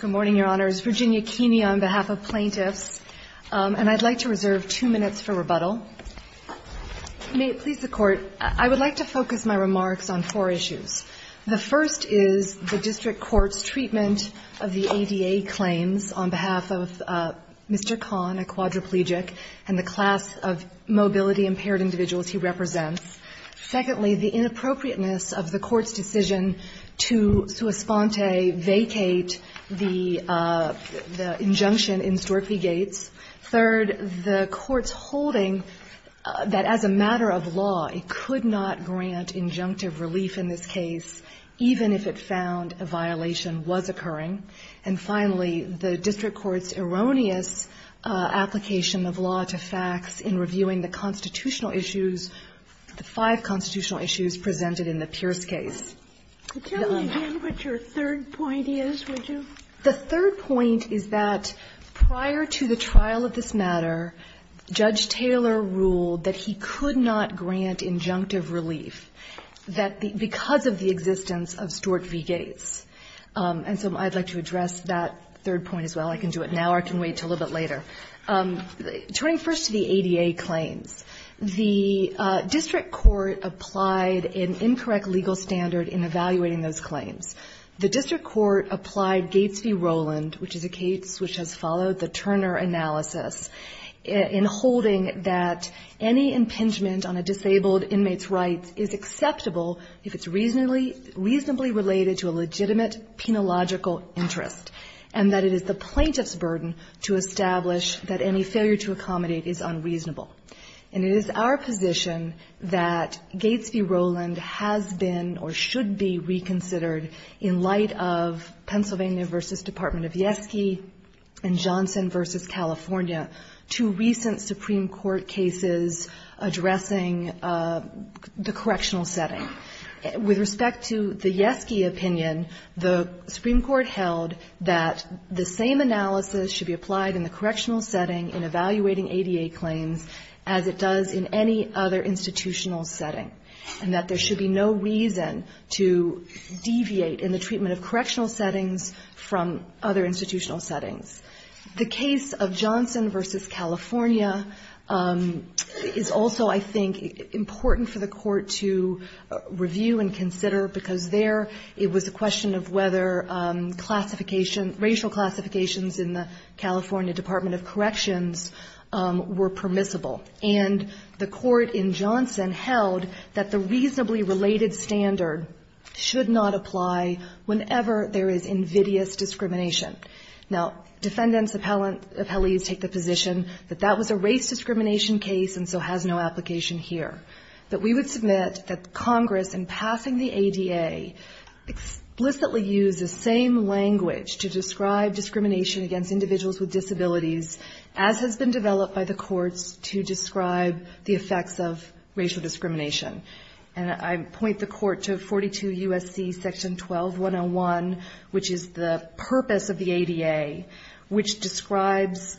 Good morning, Your Honors. Virginia Keeney on behalf of plaintiffs, and I'd like to reserve two minutes for rebuttal. May it please the Court, I would like to focus my remarks on four issues. The first is the District Court's treatment of the ADA claims on behalf of Mr. Kahn, a quadriplegic, and the class of mobility-impaired individuals he represents. Secondly, the inappropriateness of the Court's decision to sui sponte vacate the injunction in Storphy Gate. Third, the Court's holding that as a matter of law, it could not grant injunctive relief in this case, even if it found a violation was occurring. And finally, the District Court's erroneous application of law-to-facts in reviewing the constitutional issues, the five constitutional issues presented in the Pierce case. Would you tell me what your third point is, would you? The third point is that prior to the trial of this matter, Judge Taylor ruled that he could not grant injunctive relief, because of the existence of Storphy Gate. And so I'd like to address that third point as well. I can do it now or I can wait until a little bit later. Turning first to the ADA claims, the District Court applied an incorrect legal standard in evaluating those claims. The District Court applied Gates v. Roland, which is a case which has followed the Turner analysis, in holding that any impingement on a disabled inmate's rights is acceptable, if it's reasonably related to a legitimate penological interest, and that it is the plaintiff's burden to establish that any failure to accommodate is unreasonable. And it is our position that Gates v. Roland has been or should be reconsidered, in light of Pennsylvania v. Department of Yeski and Johnson v. California, two recent Supreme Court cases addressing the correctional setting. With respect to the Yeski opinion, the Supreme Court held that the same analysis should be applied in the correctional setting in evaluating ADA claims as it does in any other institutional setting, and that there should be no reason to deviate in the treatment of correctional settings from other institutional settings. The case of Johnson v. California is also, I think, important for the Court to review and consider, because there it was a question of whether racial classifications in the California Department of Corrections were permissible. And the Court in Johnson held that the reasonably related standard should not apply whenever there is invidious discrimination. Now, defendants appellees take the position that that was a race discrimination case and so has no application here. But we would submit that Congress, in passing the ADA, explicitly used the same language to describe discrimination against individuals with disabilities, as has been developed by the Court to describe the effects of racial discrimination. And I point the Court to 42 U.S.C. section 12-101, which is the purpose of the ADA, which describes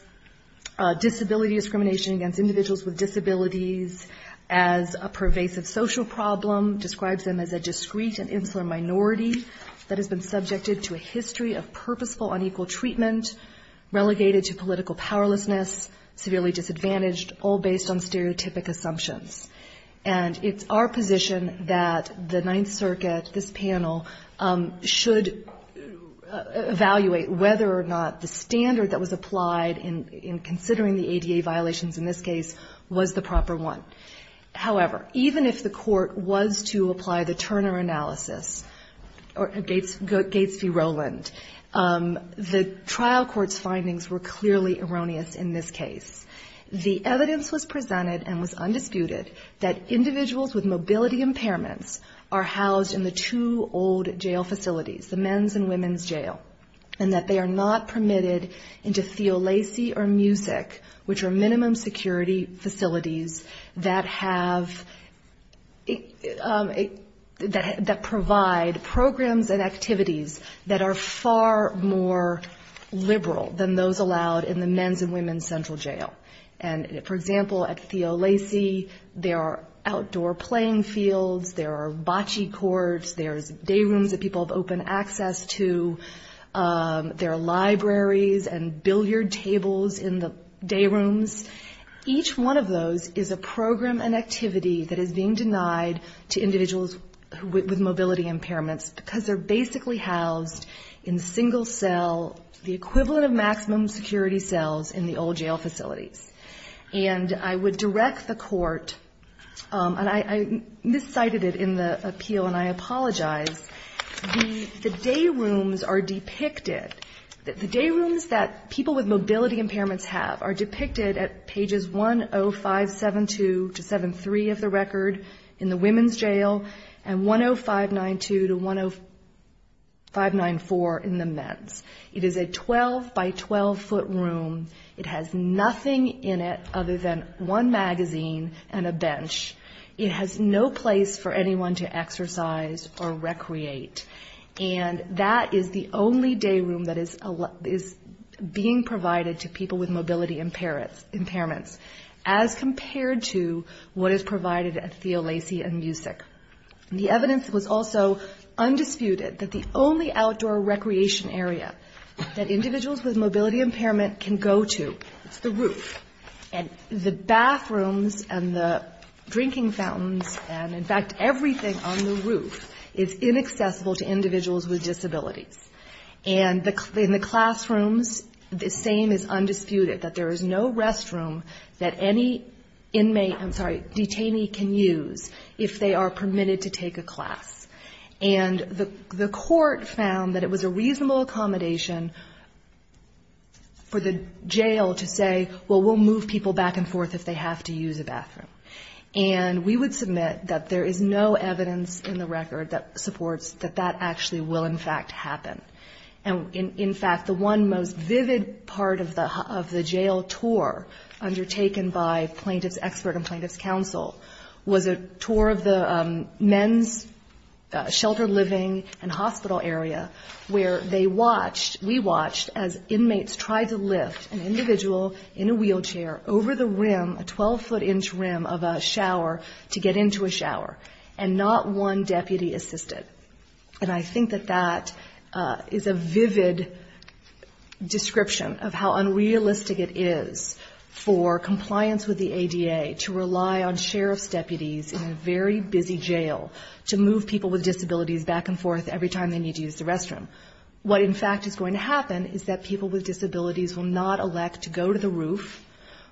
disability discrimination against individuals with disabilities as a pervasive social problem, describes them as a discreet and insular minority that has been subjected to a history of purposeful unequal treatment, relegated to political powerlessness, severely disadvantaged, all based on stereotypic assumptions. And it's our position that the Ninth Circuit, this panel, should evaluate whether or not the standard that was applied in considering the ADA violations in this case was the proper one. However, even if the Court was to apply the Turner analysis, or Gates v. Rowland, the trial court's findings were clearly erroneous in this case. The evidence was presented and was undisputed that individuals with mobility impairments are housed in the two old jail facilities, the men's and women's jail, and that they are not permitted into CO Lacey or MUSIC, which are minimum security facilities that provide programs and activities that are far more liberal than those allowed in the men's and women's central jail. And, for example, at CO Lacey, there are outdoor playing fields, there are bocce courts, there are day rooms that people have open access to, there are libraries and billiard tables in the day rooms. Each one of those is a program and activity that is being denied to individuals with mobility impairments because they're basically housed in single cell, the equivalent of maximum security cells in the old jail facilities. And I would direct the Court, and I miscited it in the appeal and I apologize, the day rooms are depicted, the day rooms that people with mobility impairments have are depicted at pages 10572-73 of the record in the women's jail and 10592-10594 in the men's. It is a 12 by 12 foot room, it has nothing in it other than one magazine and a bench. It has no place for anyone to exercise or recreate. And that is the only day room that is being provided to people with mobility impairments as compared to what is provided at CO Lacey and MUSIC. The evidence was also undisputed that the only outdoor recreation area that individuals with mobility impairment can go to is the roof. And the bathrooms and the drinking fountains and in fact everything on the roof is inaccessible to individuals with disabilities. And in the classrooms, the same is undisputed, that there is no restroom that any inmate, I'm sorry, detainee can use if they are permitted to take a class. And the Court found that it was a reasonable accommodation for the jail to say, well, we'll move people back and forth if they have to use a bathroom. And we would submit that there is no evidence in the record that supports that that actually will in fact happen. And in fact, the one most vivid part of the jail tour undertaken by plaintiff's expert and plaintiff's counsel was a tour of the men's sheltered living and hospital area where they watched, we watched as inmates tried to lift an individual in a wheelchair over the rim, a 12-foot inch rim of a shower to get into a shower and not one deputy assisted. And I think that that is a vivid description of how unrealistic it is for compliance with the ADA to rely on sheriff's deputies in a very busy jail to move people with disabilities back and forth every time they need to use the restroom. What in fact is going to happen is that people with disabilities will not elect to go to the roof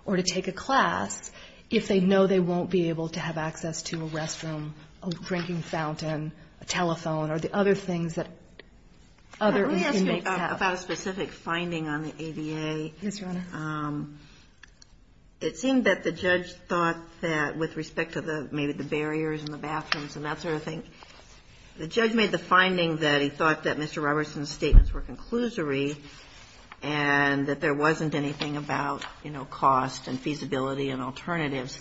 or to take a class if they know they won't be able to have access to a restroom, a drinking fountain, a telephone or the other things that other inmates have. Let me ask you about a specific finding on the ADA. Yes, Your Honor. It seemed that the judge thought that with respect to maybe the barriers in the bathrooms and that sort of thing, the judge made the finding that he thought that Mr. Robertson's statements were conclusory and that there wasn't anything about, you know, cost and feasibility and alternatives.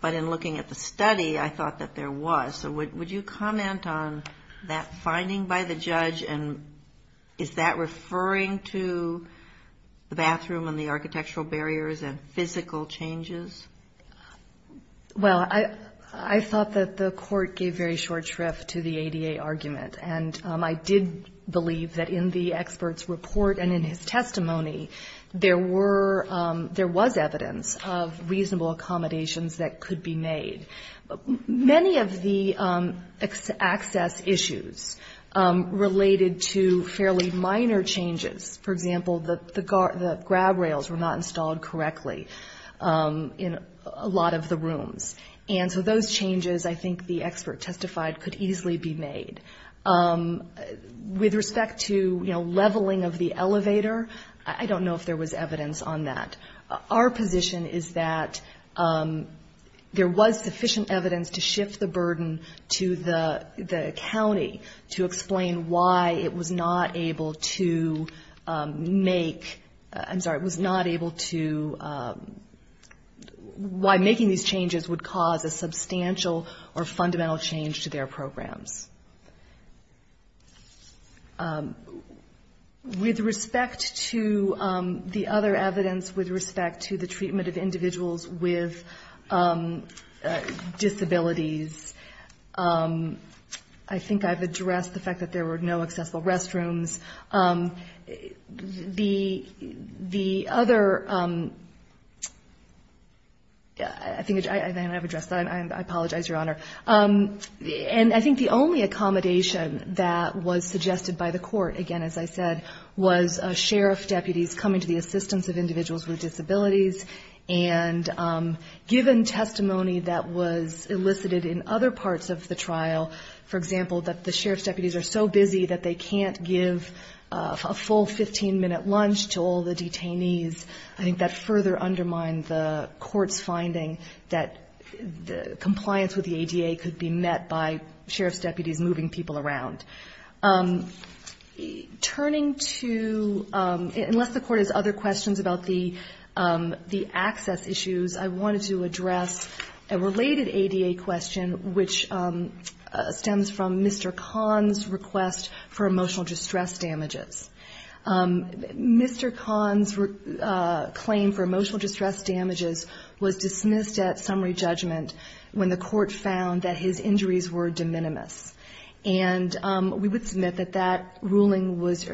But in looking at the study, I thought that there was. So would you comment on that finding by the judge and is that referring to the bathroom and the architectural barriers and physical changes? Well, I thought that the court gave very short shrift to the ADA argument. And I did believe that in the expert's report and in his testimony, there was evidence of reasonable accommodations that could be made. Many of the access issues related to fairly minor changes. For example, the grab rails were not installed correctly in a lot of the rooms. And so those changes, I think the expert testified, could easily be made. With respect to, you know, leveling of the elevator, I don't know if there was evidence on that. Our position is that there was sufficient evidence to shift the burden to the county to explain why it was not able to make, I'm sorry, was not able to, why making these changes would cause a substantial or fundamental change to their programs. With respect to the other evidence, with respect to the treatment of individuals with disabilities, I think I've addressed the fact that there were no accessible restrooms. The other, I think, and I haven't addressed that. I apologize, Your Honor. And I think the only accommodation that was suggested by the court, again, as I said, was sheriff's deputies coming to the assistance of individuals with disabilities. And given testimony that was elicited in other parts of the trial, for example, that the sheriff's deputies are so busy that they can't give a full 15-minute lunch to all the detainees, I think that further undermines the court's finding that compliance with the ADA could be met by sheriff's deputies moving people around. Turning to, unless the court has other questions about the access issues, I wanted to address a related ADA question which stems from Mr. Kahn's request for emotional distress damages. Mr. Kahn's claim for emotional distress damages was dismissed at summary judgment when the court found that his injuries were de minimis. And we would submit that that ruling was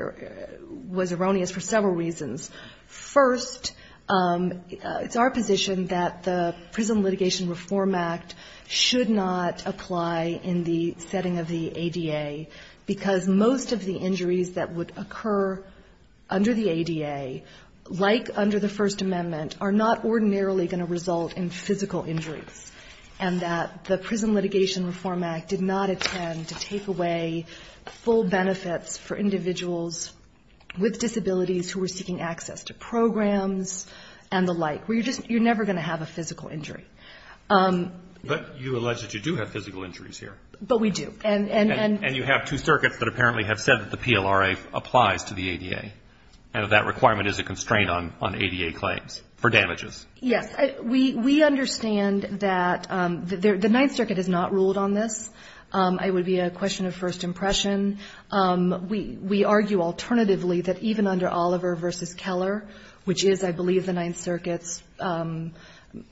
erroneous for several reasons. First, it's our position that the Prison Litigation Reform Act should not apply in the setting of the ADA because most of the injuries that would occur under the ADA, like under the First Amendment, are not ordinarily going to result in physical injury. And that the Prison Litigation Reform Act did not intend to take away full benefits for individuals with disabilities who were seeking access to programs and the like. You're never going to have a physical injury. But you allege that you do have physical injuries here. But we do. And you have two circuits that apparently have said that the PLRA applies to the ADA and that that requirement is a constraint on ADA claims for damages. Yes. We understand that the Ninth Circuit has not ruled on this. It would be a question of first impression. We argue alternatively that even under Oliver v. Keller, which is, I believe, the Ninth Circuit's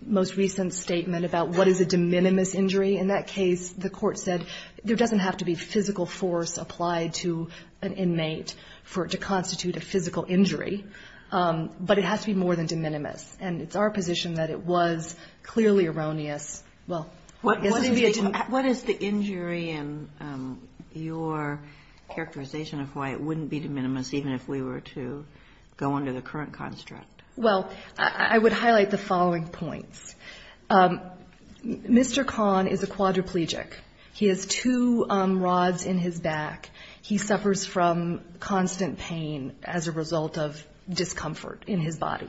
most recent statement about what is a de minimis injury, in that case the court said there doesn't have to be physical force applied to an inmate to constitute a physical injury. But it has to be more than de minimis. And it's our position that it was clearly erroneous. What is the injury and your characterization of why it wouldn't be de minimis even if we were to go under the current construct? Well, I would highlight the following points. Mr. Kahn is a quadriplegic. He has two rods in his back. He suffers from constant pain as a result of discomfort in his body.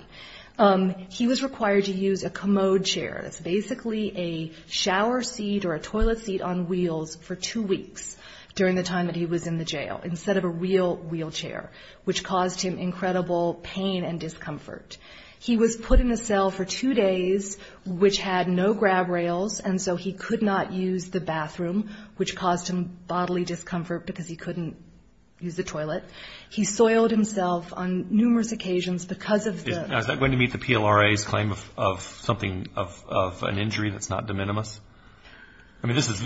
He was required to use a commode chair. It's basically a shower seat or a toilet seat on wheels for two weeks during the time that he was in the jail instead of a real wheelchair, which caused him incredible pain and discomfort. He was put in a cell for two days, which had no grab rails, and so he could not use the bathroom, which caused him bodily discomfort because he couldn't use the toilet. He soiled himself on numerous occasions because of the... of an injury that's not de minimis? I mean, this is...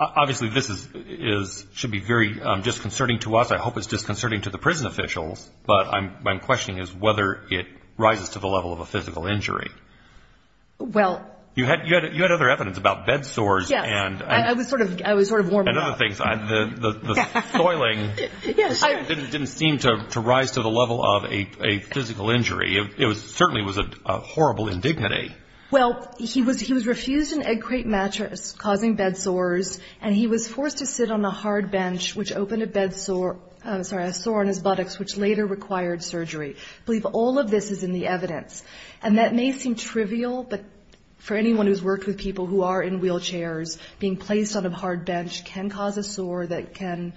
Obviously, this should be very disconcerting to us. I hope it's disconcerting to the prison officials, but my question is whether it rises to the level of a physical injury. Well... You had other evidence about bed sores and... Yeah, I was sort of warming up. And other things. The soiling didn't seem to rise to the level of a physical injury. It certainly was a horrible indignity. Well, he was refused an egg crate mattress, causing bed sores, and he was forced to sit on the hard bench, which opened a sore in his buttocks, which later required surgery. I believe all of this is in the evidence. And that may seem trivial, but for anyone who's worked with people who are in wheelchairs, being placed on a hard bench can cause a sore that can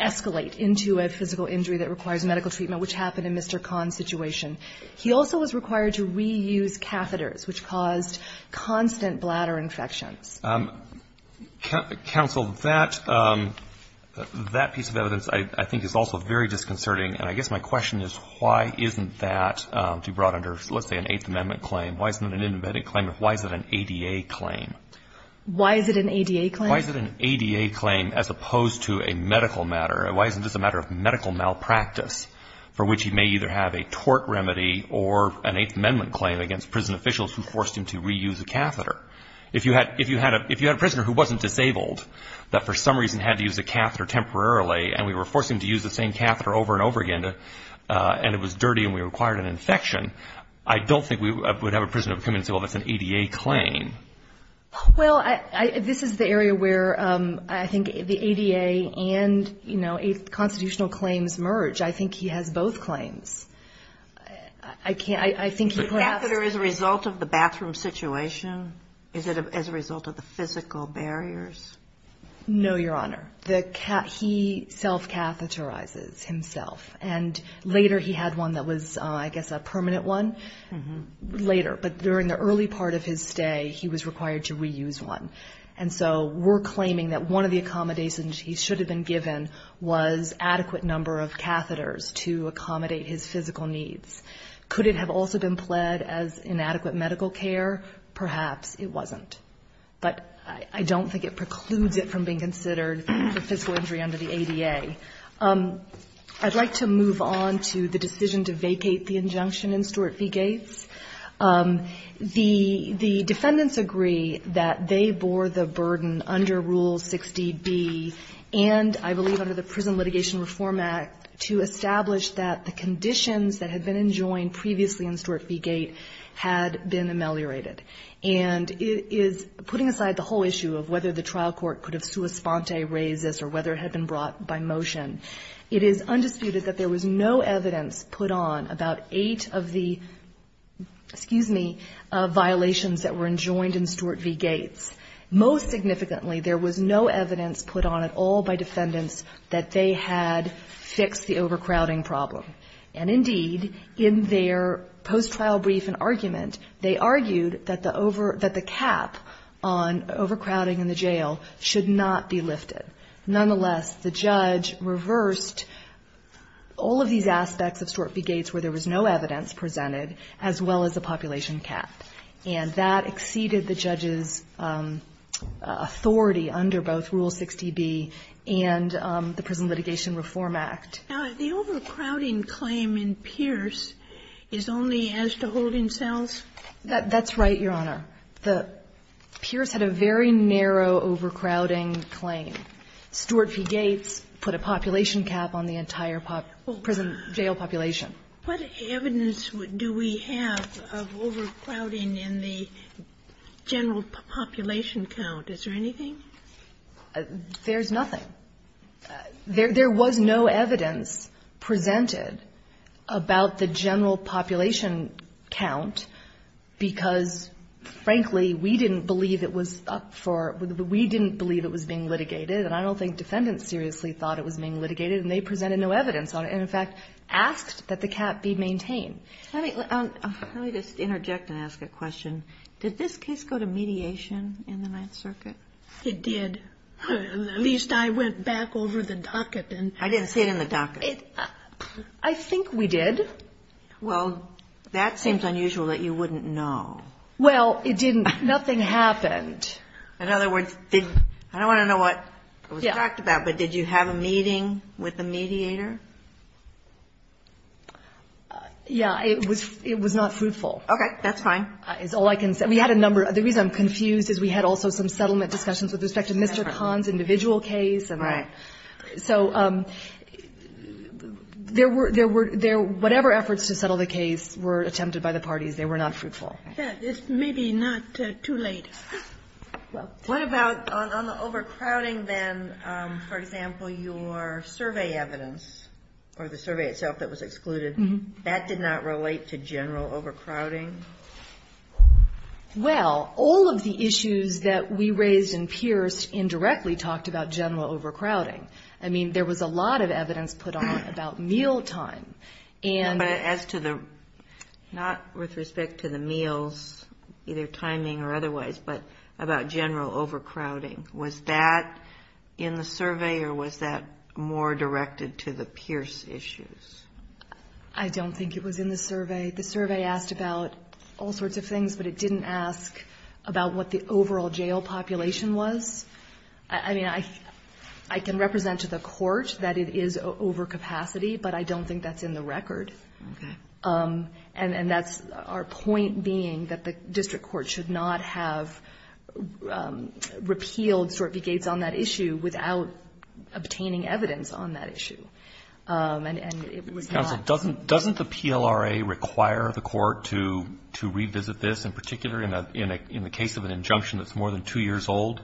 escalate into a physical injury that requires medical treatment, which happened in Mr Kahn's situation. He also was required to reuse catheters, which caused constant bladder infection. Counsel, that piece of evidence I think is also very disconcerting, and I guess my question is why isn't that, if you brought under, let's say, an Eighth Amendment claim, why isn't it an independent claim, if why is it an ADA claim? Why is it an ADA claim? Why is it an ADA claim as opposed to a medical matter? Why isn't this a matter of medical malpractice, for which you may either have a tort remedy or an Eighth Amendment claim against prison officials who forced him to reuse a catheter? If you had a prisoner who wasn't disabled, that for some reason had to use a catheter temporarily, and we were forcing him to use the same catheter over and over again, and it was dirty and we required an infection, I don't think we would have a prisoner coming to us with an ADA claim. Well, this is the area where I think the ADA and, you know, constitutional claims merge. I think he has both claims. The catheter is a result of the bathroom situation? Is it as a result of the physical barriers? No, Your Honor. He self-catheterizes himself, and later he had one that was, I guess, a permanent one. Later, but during the early part of his stay, he was required to reuse one, and so we're claiming that one of the accommodations he should have been given was adequate number of catheters to accommodate his physical needs. Could it have also been pled as inadequate medical care? Perhaps it wasn't, but I don't think it precludes it from being considered as a physical injury under the ADA. I'd like to move on to the decision to vacate the injunction in Stuart v. Gates. The defendants agree that they bore the burden under Rule 60B and, I believe, under the Prison Litigation Reform Act to establish that the conditions that had been enjoined previously in Stuart v. Gates had been ameliorated, and it is putting aside the whole issue of whether the trial court could have sua sponte raised this or whether it had been brought by motion. It is undisputed that there was no evidence put on violations that were enjoined in Stuart v. Gates. Most significantly, there was no evidence put on at all by defendants that they had fixed the overcrowding problem. And indeed, in their post-trial brief and argument, they argued that the cap on overcrowding in the jail should not be lifted. Nonetheless, the judge reversed all of these aspects of Stuart v. Gates where there was no evidence presented as well as the population cap, and that exceeded the judge's authority under both Rule 60B and the Prison Litigation Reform Act. Now, the overcrowding claim in Pierce is only as to hold himself? That's right, Your Honor. Pierce had a very narrow overcrowding claim. Stuart v. Gates put a population cap on the entire prison jail population. What evidence do we have of overcrowding in the general population count? Is there anything? There's nothing. There was no evidence presented about the general population count because, frankly, we didn't believe it was up for... We didn't believe it was being litigated, and I don't think defendants seriously thought it was being litigated, and they presented no evidence. In fact, asked that the cap be maintained. Let me just interject and ask a question. Did this case go to mediation in the Ninth Circuit? It did. At least I went back over the docket and... I didn't see it in the docket. I think we did. Well, that seems unusual that you wouldn't know. Well, it didn't. Nothing happened. In other words, did... I don't want to know what was talked about, but did you have a meeting with the mediator? Yeah, it was not fruitful. Okay, that's fine. That's all I can say. We had a number... The reason I'm confused is we had also some settlement discussions with respect to Mr. Khan's individual case. Right. So there were... Whatever efforts to settle the case were attempted by the parties. They were not fruitful. It's maybe not too late. What about on the overcrowding then? For example, your survey evidence or the survey itself that was excluded, that did not relate to general overcrowding? Well, all of the issues that we raised in Pierce indirectly talked about general overcrowding. I mean, there was a lot of evidence put on about meal time. As to the... Either timing or otherwise, but about general overcrowding. Was that in the survey or was that more directed to the Pierce issues? I don't think it was in the survey. The survey asked about all sorts of things, but it didn't ask about what the overall jail population was. I mean, I can represent to the court that it is over capacity, but I don't think that's in the record. Okay. And that's our point being that the district court should not have repealed sort of the case on that issue without obtaining evidence on that issue. And it would not... Doesn't the PLRA require the court to revisit this, in particular in the case of an injunction that's more than two years old?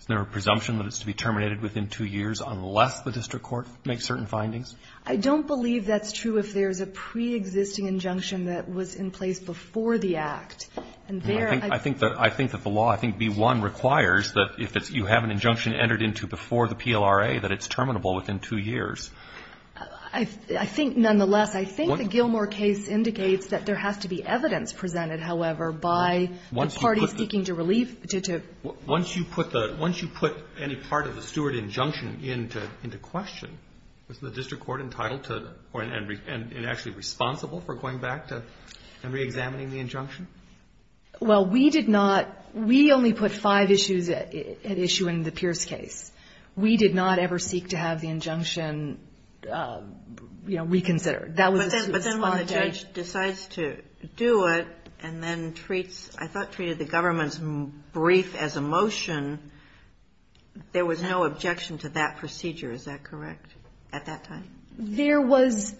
Is there a presumption that it's to be terminated within two years unless the district court makes certain findings? I don't believe that's true if there's a pre-existing injunction that was in place before the act. I think that the law, I think, B-1 requires that if you have an injunction entered into before the PLRA that it's terminable within two years. I think, nonetheless, I think the Gilmore case indicates that there has to be evidence presented, however, by parties seeking to relieve... Once you put any part of the Stewart injunction into question, isn't the district court entitled to... and actually responsible for going back and re-examining the injunction? Well, we did not... We only put five issues at issue in the Pierce case. We did not ever seek to have the injunction, you know, reconsidered. But then when the judge decides to do it and then treats... I thought treated the government's brief as a motion, there was no objection to that procedure, is that correct? At that time. There was...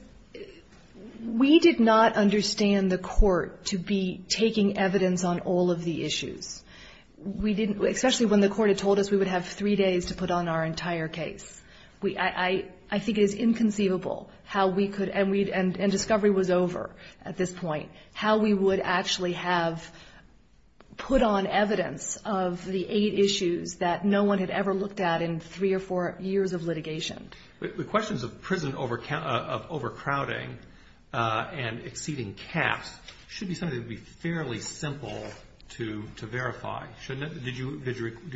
We did not understand the court to be taking evidence on all of the issues. We didn't, especially when the court had told us we would have three days to put on our entire case. I think it is inconceivable how we could... and discovery was over at this point, how we would actually have put on evidence of the eight issues that no one had ever looked at in three or four years of litigation. The questions of prison overcrowding and exceeding caps should be something that would be fairly simple to verify. Did you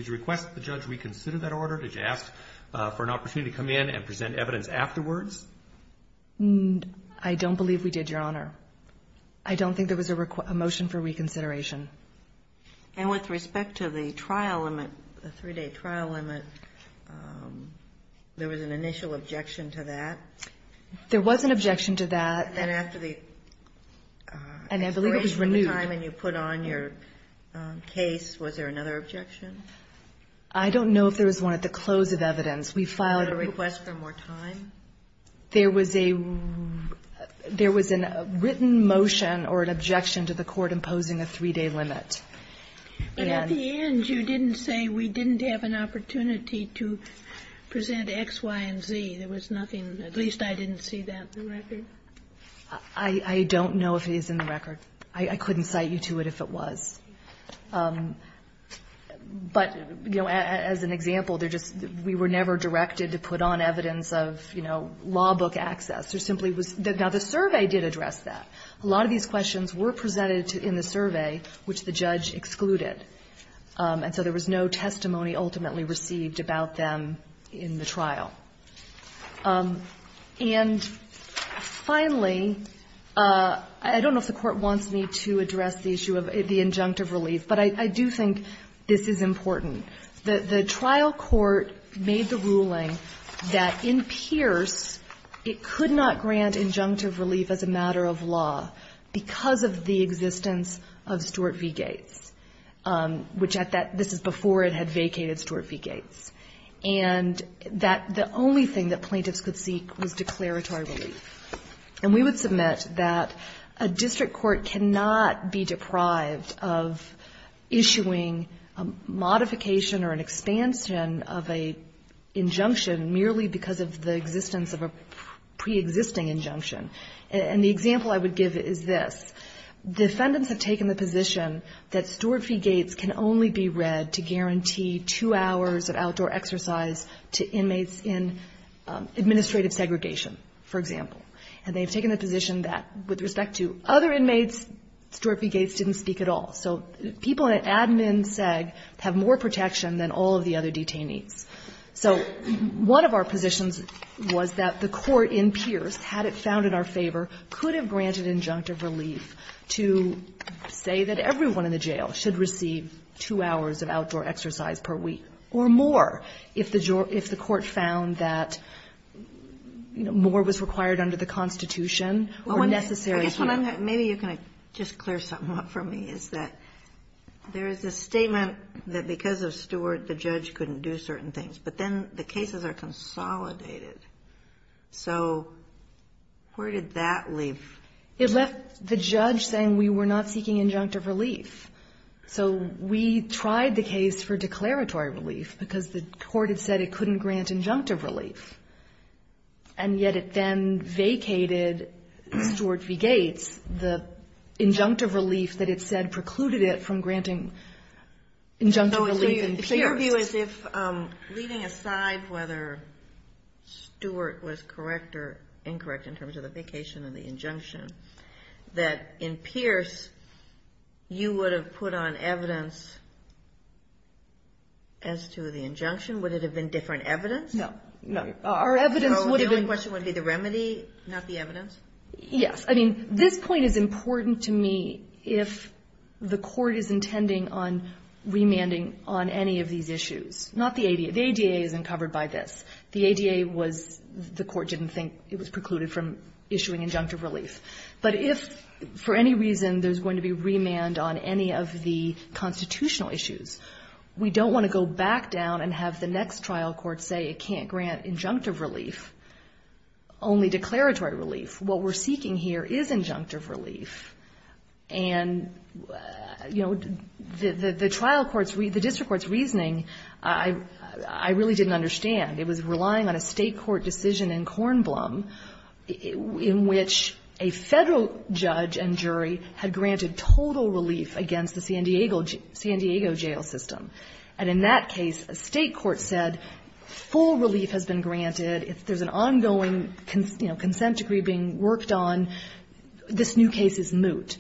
request the judge reconsider that order? Did you ask for an opportunity to come in and present evidence afterwards? I don't believe we did, Your Honor. I don't think there was a motion for reconsideration. And with respect to the trial limit, the three-day trial limit, there was an initial objection to that? There was an objection to that. And after the... And I believe it was renewed. ...and you put on your case, was there another objection? I don't know if there was one at the close of evidence. We filed... Was there a request for more time? There was a... There was a written motion or an objection to the court imposing a three-day limit. And at the end, you didn't say, we didn't have an opportunity to present X, Y, and Z. There was nothing... At least I didn't see that in the record. I don't know if it is in the record. I couldn't cite you to it if it was. But, you know, as an example, we were never directed to put on evidence of, you know, law book access. There simply was... Now, the survey did address that. A lot of these questions were presented in the survey, which the judge excluded. And so there was no testimony ultimately received about them in the trial. And finally, I don't know if the court wants me to address the issue of the injunctive relief, but I do think this is important. The trial court made the ruling that in Pierce, it could not grant injunctive relief as a matter of law because of the existence of Stuart v. Gates, which at that... This is before it had vacated Stuart v. Gates. And the only thing that plaintiffs could seek was declaratory relief. And we would submit that a district court cannot be deprived of issuing a modification or an expansion of an injunction merely because of the existence of a pre-existing injunction. And the example I would give is this. Defendants have taken the position that Stuart v. Gates can only be read to guarantee two hours of outdoor exercise to inmates in administrative segregation, for example. And they've taken a position that, with respect to other inmates, Stuart v. Gates didn't speak at all. So people in an admin seg have more protection than all of the other detainees. So one of our positions was that the court in Pierce, had it found in our favor, could have granted injunctive relief to say that everyone in the jail should receive two hours of outdoor exercise per week or more if the court found that more was required under the Constitution or necessary... Maybe you can just clear something up for me. Is that there is a statement that because of Stuart, the judge couldn't do certain things, but then the cases are consolidated. So where did that leave...? It left the judge saying we were not seeking injunctive relief. So we tried the case for declaratory relief because the court had said it couldn't grant injunctive relief. And yet it then vacated Stuart v. Gates. The injunctive relief that it said precluded it from granting injunctive relief in Pierce. My view is if, leaving aside whether Stuart was correct or incorrect in terms of the vacation of the injunction, that in Pierce you would have put on evidence as to the injunction? Would it have been different evidence? No. So the only question would be the remedy, not the evidence? Yes. I mean, this point is important to me if the court is intending on remanding on any of these issues. Not the ADA. The ADA isn't covered by this. The ADA was... The court didn't think it was precluded from issuing injunctive relief. But if for any reason there's going to be remand on any of the constitutional issues, we don't want to go back down and have the next trial court say it can't grant injunctive relief, only declaratory relief. What we're seeking here is injunctive relief. And, you know, the district court's reasoning, I really didn't understand. It was relying on a state court decision in Cornblum in which a federal judge and jury had granted total relief against the San Diego jail system. And in that case, a state court said, full relief has been granted. There's an ongoing consent decree being worked on. And this new case is moot.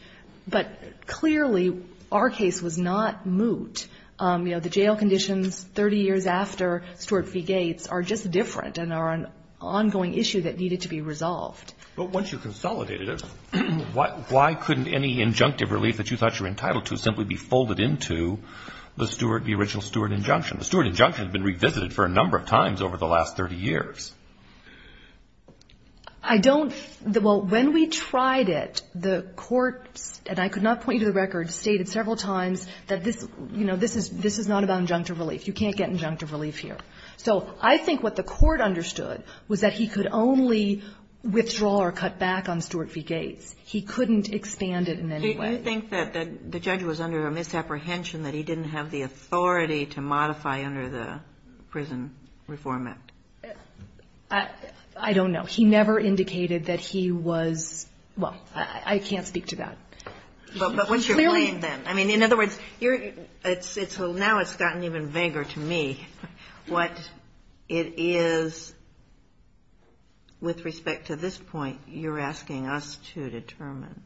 But clearly our case was not moot. You know, the jail conditions 30 years after Stuart v. Gates are just different and are an ongoing issue that needed to be resolved. But once you consolidated it, why couldn't any injunctive relief that you thought you were entitled to simply be folded into the original Stuart injunction? The Stuart injunction has been revisited for a number of times over the last 30 years. I don't... Well, when we tried it, the court, and I could not point you to the record, stated several times that, you know, this is not about injunctive relief. You can't get injunctive relief here. So I think what the court understood was that he could only withdraw or cut back on Stuart v. Gates. He couldn't expand it in any way. Did you think that the judge was under a misapprehension that he didn't have the authority to modify under the Prison Reform Act? I don't know. He never indicated that he was... Well, I can't speak to that. But what's your point in that? I mean, in other words, now it's gotten even vaguer to me what it is with respect to this point you're asking us to determine.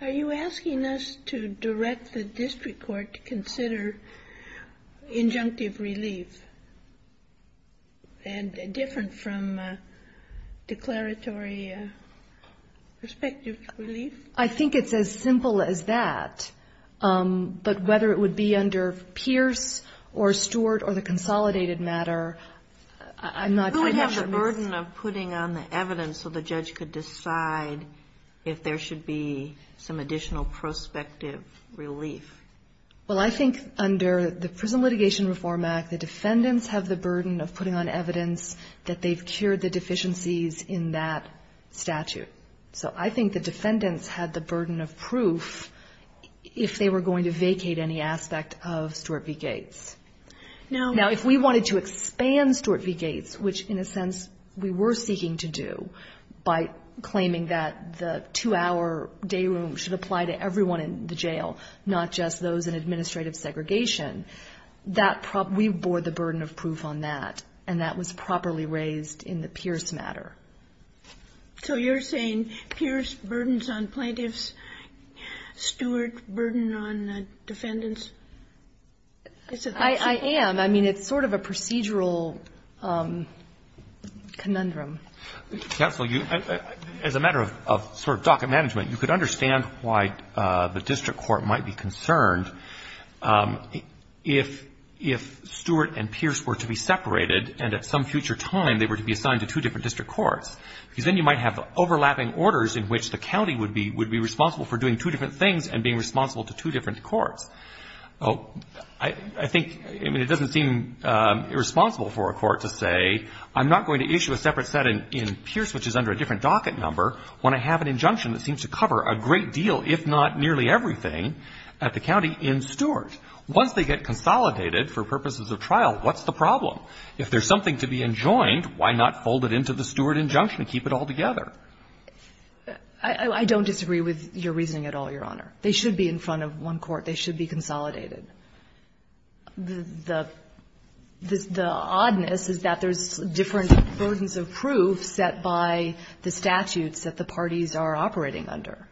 Are you asking us to direct the district court to consider injunctive relief and different from declaratory prospective relief? I think it's as simple as that. But whether it would be under Pierce or Stuart or the consolidated matter, I'm not quite sure. Who would have the burden of putting on the evidence so the judge could decide if there should be some additional prospective relief? Well, I think under the Prison Litigation Reform Act, the defendants have the burden of putting on evidence that they've cured the deficiencies in that statute. So I think the defendants had the burden of proof if they were going to vacate any aspect of Stuart v. Gates. Now, if we wanted to expand Stuart v. Gates, which, in a sense, we were seeking to do by claiming that the two-hour day room should apply to everyone in the jail, not just those in administrative segregation, we bore the burden of proof on that, and that was properly raised in the Pierce matter. So you're saying Pierce burdens on plaintiffs, Stuart burden on the defendants? I am. I mean, it's sort of a procedural conundrum. As a matter of sort of docket management, you could understand why the district court might be concerned if Stuart and Pierce were to be separated and at some future time they were to be assigned to two different district courts. Then you might have overlapping orders in which the county would be responsible for doing two different things and being responsible to two different courts. I think it doesn't seem irresponsible for a court to say, I'm not going to issue a separate set in Pierce, which is under a different docket number, when I have an injunction that seems to cover a great deal, if not nearly everything, at the county in Stuart. Once they get consolidated for purposes of trial, what's the problem? If there's something to be enjoined, why not fold it into the Stuart injunction and keep it all together? I don't disagree with your reasoning at all, Your Honor. They should be in front of one court. They should be consolidated. The oddness is that there's different versions of proof set by the statutes that the parties are operating under.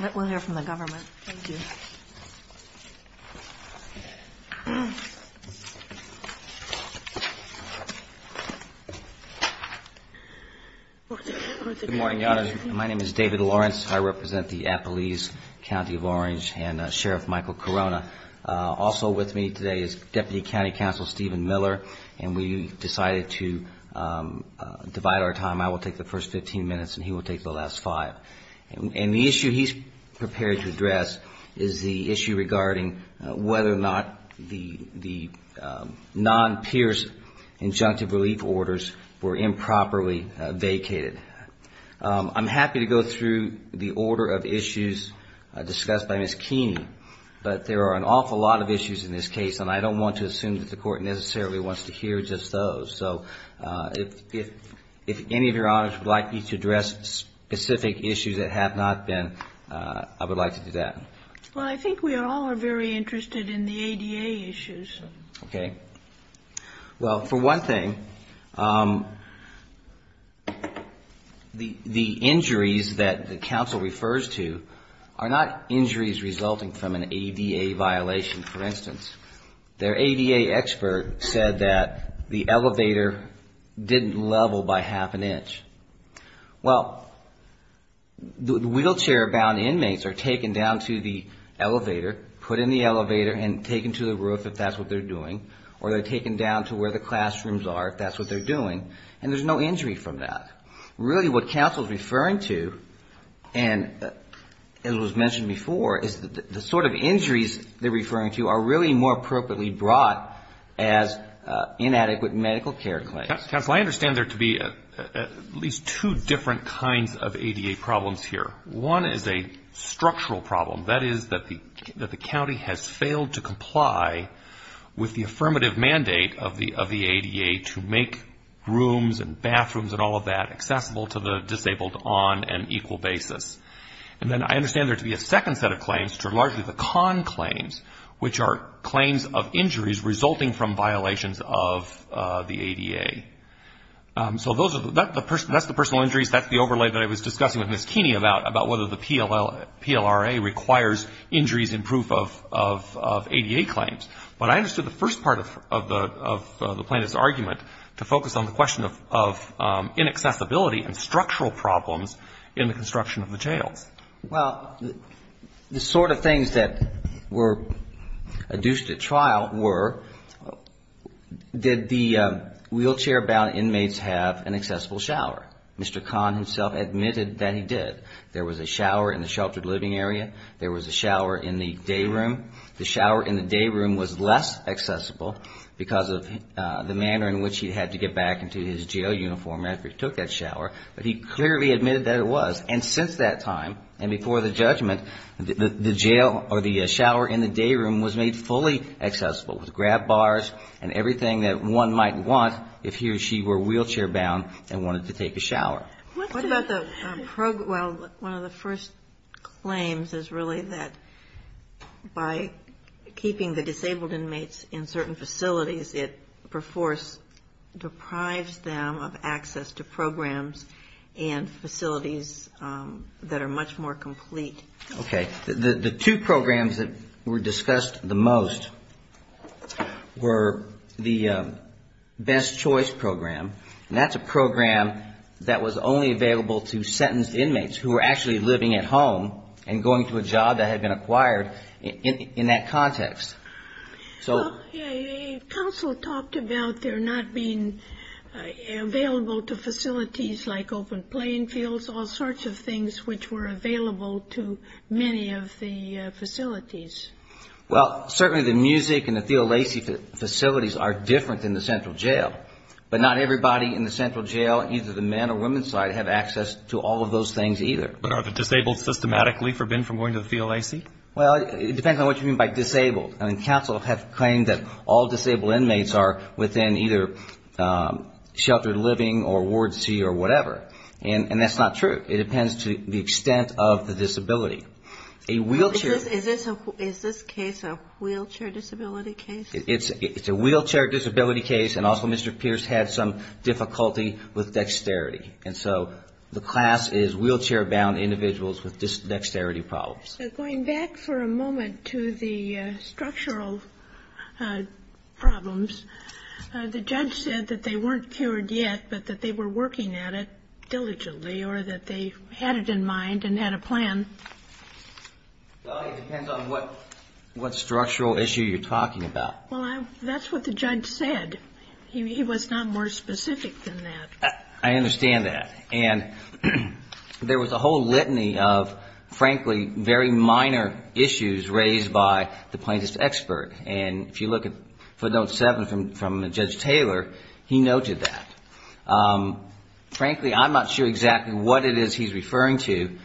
Let one there from the government. Thank you. Good morning, Your Honor. My name is David Lawrence. I represent the Appalese County of Orange and Sheriff Michael Corona. Also with me today is Deputy County Counsel Stephen Miller, and we decided to divide our time. I will take the first 15 minutes, and he will take the last five. The issue he's prepared to address is the issue regarding whether or not the non-Pierce injunctive relief orders were improperly vacated. I'm happy to go through the order of issues discussed by Ms. Keene, but there are an awful lot of issues in this case, and I don't want to assume that the court necessarily wants to hear just those. So, if any of Your Honors would like me to address specific issues that have not been, I would like to do that. Well, I think we all are very interested in the ADA issues. Okay. Well, for one thing, the injuries that the counsel refers to are not injuries resulting from an ADA violation, for instance. Their ADA expert said that the elevator didn't level by half an inch. Well, wheelchair-bound inmates are taken down to the elevator, put in the elevator and taken to the roof if that's what they're doing, or they're taken down to where the classrooms are if that's what they're doing, and there's no injury from that. Really, what counsel is referring to, and it was mentioned before, is the sort of injuries they're referring to are really more appropriately brought as inadequate medical care claims. Counsel, I understand there to be at least two different kinds of ADA problems here. One is a structural problem. That is that the county has failed to comply with the affirmative mandate of the ADA to make rooms and bathrooms and all of that accessible to the disabled on an equal basis. And then I understand there to be a second set of claims, which are largely the con claims, which are claims of injuries resulting from violations of the ADA. So that's the personal injuries. That's the overlay that I was discussing with Ms. Keeney about whether the PLRA requires injuries in proof of ADA claims. But I understood the first part of the plaintiff's argument to focus on the question of inaccessibility and structural problems in the construction of the jail. Well, the sort of things that were adduced at trial were did the wheelchair-bound inmates have an accessible shower? Mr. Kahn himself admitted that he did. There was a shower in the sheltered living area. There was a shower in the day room. The shower in the day room was less accessible because of the manner in which he had to get back into his jail uniform after he took that shower. But he clearly admitted that it was. And since that time and before the judgment, the jail or the shower in the day room was made fully accessible with grab bars and everything that one might want if he or she were wheelchair-bound and wanted to take a shower. One of the first claims is really that by keeping the disabled inmates in certain facilities, it deprives them of access to programs and facilities that are much more complete. Okay. The two programs that were discussed the most were the Best Choice Program. And that's a program that was only available to sentenced inmates who were actually living at home and going to a job that had been acquired in that context. So... Okay. Counsel talked about there not being available to facilities like open playing fields, all sorts of things which were available to many of the facilities. Well, certainly the music and the theology facilities are different than the central jail. But not everybody in the central jail, either the men or women's side, have access to all of those things either. But are the disabled systematically forbidden from going to the theology? Well, it depends on what you mean by disabled. I mean, counsel have claimed that all disabled inmates are within either sheltered living or Ward C or whatever. And that's not true. It depends to the extent of the disability. A wheelchair... Is this case a wheelchair disability case? It's a wheelchair disability case and also Mr. Pierce had some difficulty with dexterity. And so the class is wheelchair-bound individuals with dexterity problems. Going back for a moment to the structural problems, the judge said that they weren't cured yet but that they were working at it diligently or that they had it in mind and had a plan. Well, it depends on what structural issue you're talking about. Well, that's what the judge said. He was not more specific than that. I understand that. And there was a whole litany of, frankly, very minor issues raised by the plaintiff's expert. And if you look at note 7 from Judge Taylor, he noted that. Frankly, I'm not sure exactly what it is he's referring to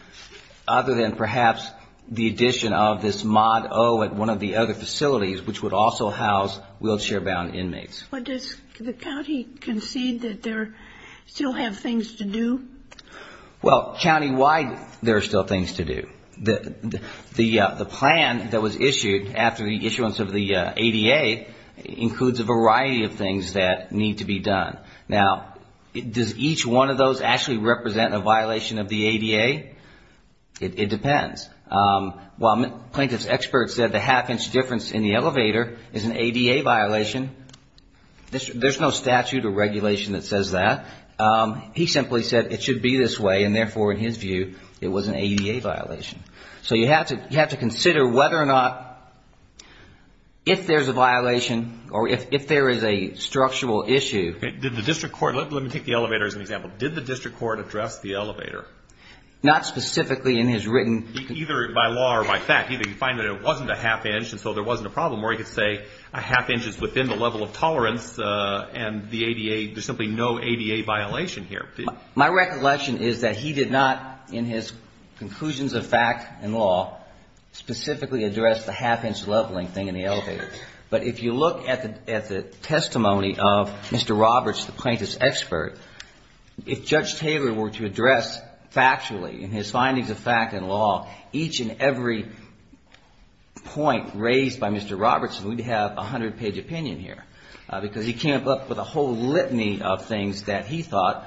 other than perhaps the addition of this mod O at one of the other facilities which would also house wheelchair-bound inmates. But does the county concede that there still have things to do? Well, countywide there are still things to do. The plan that was issued after the issuance of the ADA includes a variety of things that need to be done. Now, does each one of those actually represent a violation of the ADA? It depends. While the plaintiff's expert said the half-inch difference in the elevator is an ADA violation, there's no statute or regulation that says that. He simply said it should be this way and therefore, in his view, it was an ADA violation. So you have to consider whether or not if there's a violation or if there is a structural issue. Let me take the elevator as an example. Did the district court address the elevator? Not specifically in his written... Either by law or by fact. Either you find that it wasn't a half-inch and so there wasn't a problem or you could say a half-inch is within the level of tolerance and there's simply no ADA violation here. My recollection is that he did not, in his conclusions of fact and law, specifically address the half-inch leveling thing in the elevator. But if you look at the testimony of Mr. Roberts, the plaintiff's expert, if Judge Taylor were to address factually in his findings of fact and law, each and every point raised by Mr. Roberts would have a hundred-page opinion here because he came up with a whole litany of things that he thought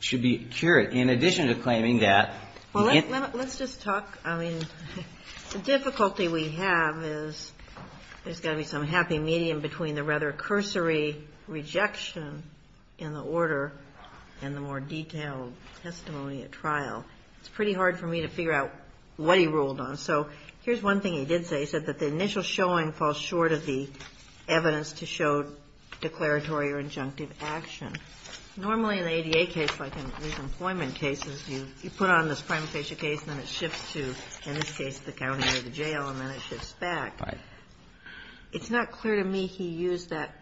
should be cured in addition to claiming that... Well, let's just talk... I mean, the difficulty we have is there's got to be some happy medium between the rather cursory rejection in the order and the more detailed testimony at trial. It's pretty hard for me to figure out what he ruled on. So here's one thing he did say. He said that the initial showing falls short of the evidence to show declaratory or injunctive action. Normally, in an ADA case, like in these employment cases, you put on this primary case, and then it shifts to, in this case, the county or the jail, and then it shifts back. It's not clear to me he used that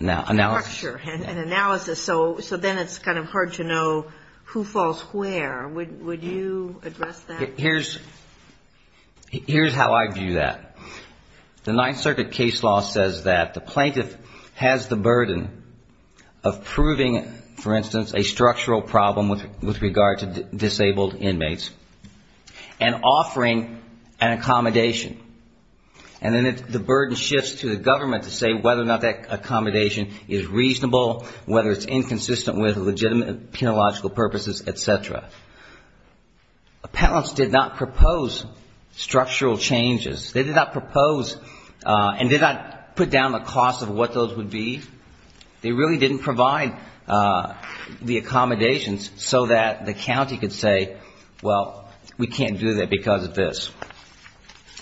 structure and analysis, so then it's kind of hard to know who falls where. Would you address that? Here's how I view that. The Ninth Circuit case law says that the plaintiff has the burden of proving, for instance, a structural problem with regard to disabled inmates and offering an accommodation. And then the burden shifts to the government to say whether or not that accommodation is reasonable, whether it's inconsistent with legitimate and penological purposes, et cetera. Appellants did not propose structural changes. They did not propose and did not put down the cost of what those would be. They really didn't provide the accommodations so that the county could say, well, we can't do that because of this.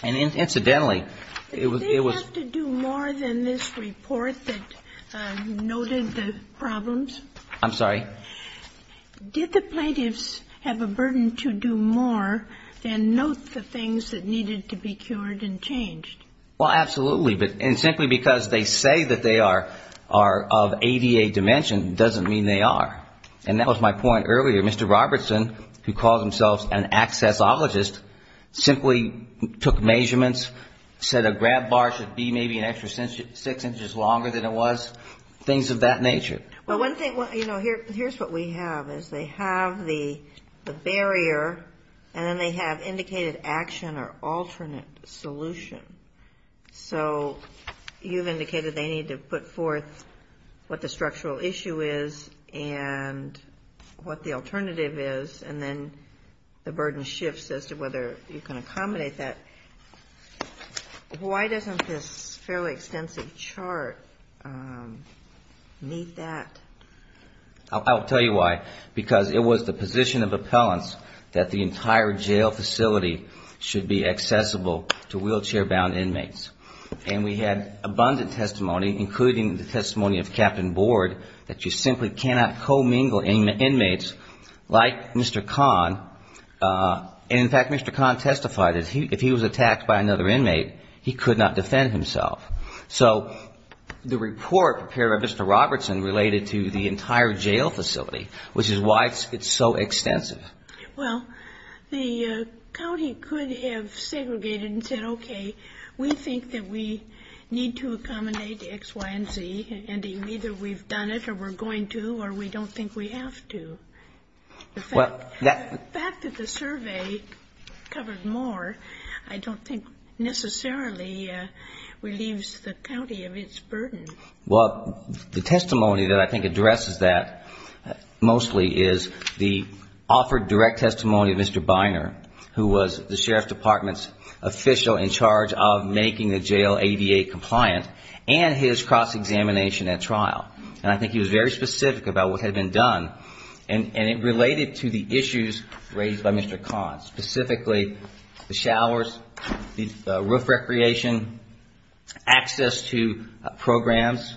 And incidentally, it was... Did they have to do more than this report that noted the problems? I'm sorry? Did the plaintiffs have a burden to do more and note the things that needed to be cured and changed? Well, absolutely. And simply because they say that they are of ADA dimension doesn't mean they are. And that was my point earlier. Mr. Robertson, who calls himself an accessologist, simply took measurements, said a grab bar should be maybe an extra six inches longer than it was, things of that nature. Well, one thing... Here's what we have is they have the barrier and then they have indicated action or alternate solution. So you've indicated they need to put forth what the structural issue is and what the alternative is and then the burden shifts as to whether you can accommodate that. Why doesn't this fairly extensive chart meet that? I'll tell you why. Because it was the position of appellants that the entire jail facility should be accessible to wheelchair-bound inmates. And we had abundant testimony, including the testimony of Captain Board, that you simply cannot co-mingle inmates like Mr. Kahn. And, in fact, Mr. Kahn testified that if he was attacked by another inmate, he could not defend himself. So the report prepared by Mr. Robertson related to the entire jail facility, which is why it's so extensive. Well, the county could have segregated and said, okay, we think that we need to accommodate X, Y, and Z and either we've done it or we're going to or we don't think we have to. The fact that the survey covers more, I don't think necessarily relieves the county of its burden. Well, the testimony that I think addresses that mostly is the offered direct testimony of Mr. Biner, who was the Sheriff Department's official in charge of making the jail ABA compliant and his cross-examination at trial. And I think he was very specific about what had been done and it related to the issues raised by Mr. Kahn, specifically the showers, roof recreation, access to programs.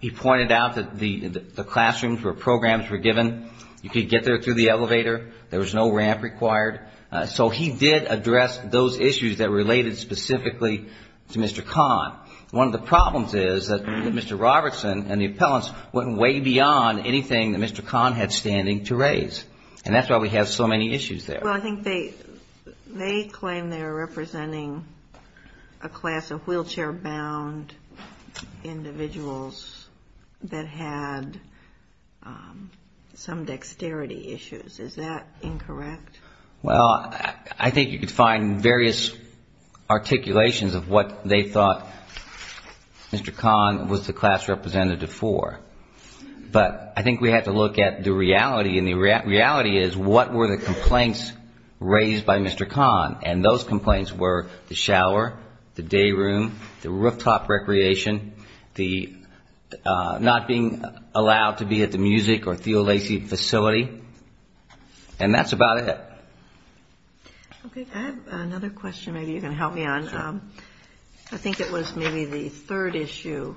He pointed out that the classrooms where programs were given, you could get there through the elevator, there was no ramp required. So he did address those issues that related specifically to Mr. Kahn. One of the problems is that Mr. Robertson and the appellants went way beyond anything that Mr. Kahn had standing to raise and that's why we have so many issues there. Well, I think they claim they're representing a class of wheelchair-bound individuals that had some dexterity issues. Is that incorrect? Well, I think you could find various articulations of what they thought Mr. Kahn was the class representative for. But I think we have to look at the reality and the reality is what were the complaints raised by Mr. Kahn and those complaints were the shower, the day room, the rooftop recreation, not being allowed to be at the music or theology facility and that's about it. I have another question maybe you can help me on. I think it was maybe the third issue